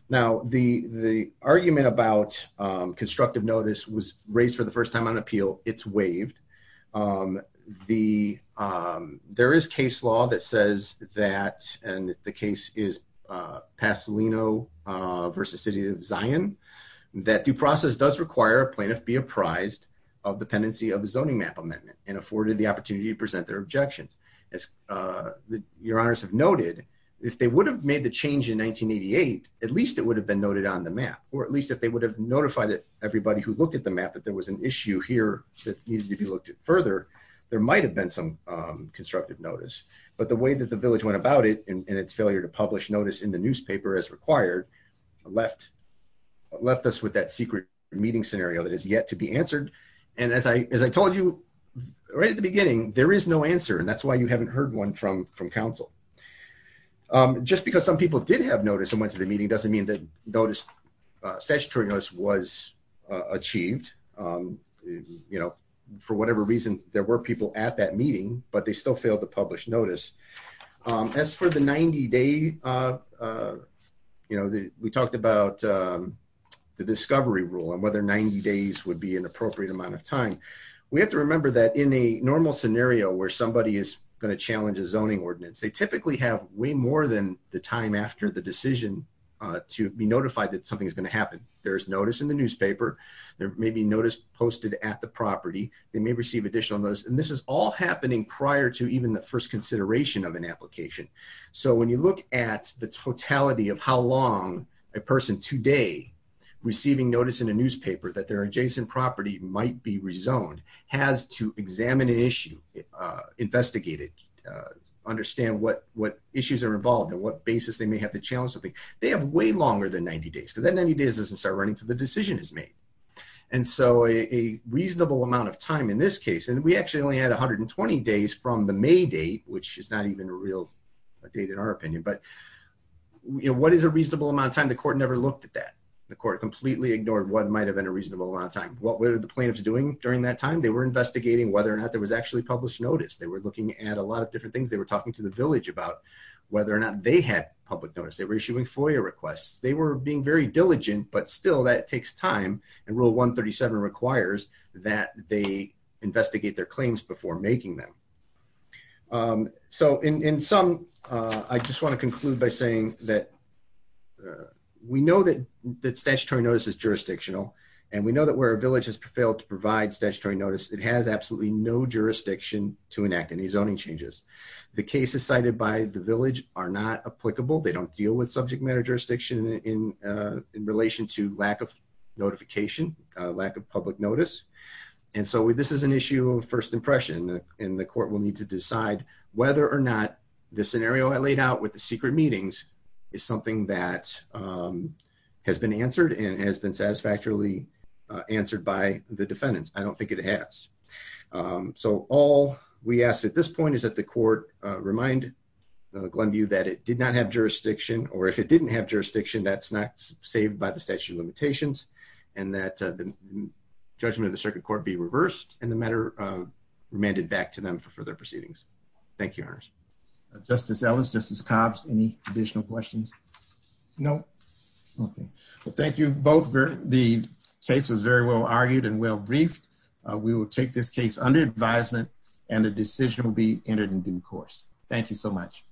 Now, the argument about constructive notice was raised for the first time on appeal. It's waived. There is case law that says that, and the case is Pasolino v. City of Zion, that due process does require a plaintiff be apprised of dependency of the zoning map amendment and afforded the opportunity to present their objection. As your honors have noted, if they would have made the change in 1988, at least it would have been noted on the map, or at least if they would have notified everybody who looked at the map that there was an issue here that needed to be looked at further, there might have been some constructive notice. But the way that the village went about it, and its failure to publish notice in the newspaper as required, left us with that secret meeting scenario that has yet to be answered. As I told you right at the beginning, there is no answer, and that's why you haven't heard one from council. Just because some people did have notice and went to the meeting doesn't mean that notice was achieved. For whatever reason, there were people at that meeting, but they still failed to publish notice. As for the 90-day, we talked about the discovery rule and whether 90 days would be an appropriate amount of time. We have to remember that in a normal scenario where somebody is going to challenge a zoning ordinance, they typically have way more than the time after the decision to be notified that something is going to happen. There is notice in the newspaper. There may be notice posted at the property. They may receive additional notice. And this is all happening prior to even the first consideration of an application. So when you look at the totality of how long a person today receiving notice in a newspaper that their adjacent property might be rezoned has to examine an issue, investigate it, understand what issues are involved and what basis they may have to challenge something, they have way longer than 90 days. So that 90 days doesn't start running until the decision is made. And so a reasonable amount of time in this case, and we actually only had 120 days from the May date, which is not even a real date in our opinion, but what is a reasonable amount of time? The court never looked at that. The court completely ignored what might have been a reasonable amount of time. What were the plaintiffs doing during that time? They were investigating whether or not there was actually published notice. They were looking at a lot of different things. They were talking to the village about whether or not they had public notice. They were issuing FOIA requests. They were being very diligent, but still that takes time. And Rule 137 requires that they investigate their claims before making them. So in sum, I just want to conclude by saying that we know that statutory notice is jurisdictional, and we know that where a village has failed to provide statutory notice, it has absolutely no jurisdiction to enact any zoning changes. The cases cited by the village are not applicable. They don't deal with subject matter jurisdiction in relation to lack of notification, lack of public notice. And so this is an issue of first impression, and the court will need to decide whether or not the scenario I laid out with the secret meetings is something that has been answered and has been satisfactorily answered by the defendants. I don't think it has. So all we ask at this point is that the court remind Glenview that it did not have jurisdiction, or if it didn't have jurisdiction, that's not saved by the statute of limitations, and that the judgment of the circuit court be reversed, and the matter remanded back to them for further proceedings. Thank you, Your Honors. Justice Ellis, Justice Cobbs, any additional questions? No. Okay. Well, thank you both. The case was very well argued and well briefed. We will take this case under advisement, and the decision will be entered in due course. Thank you so much.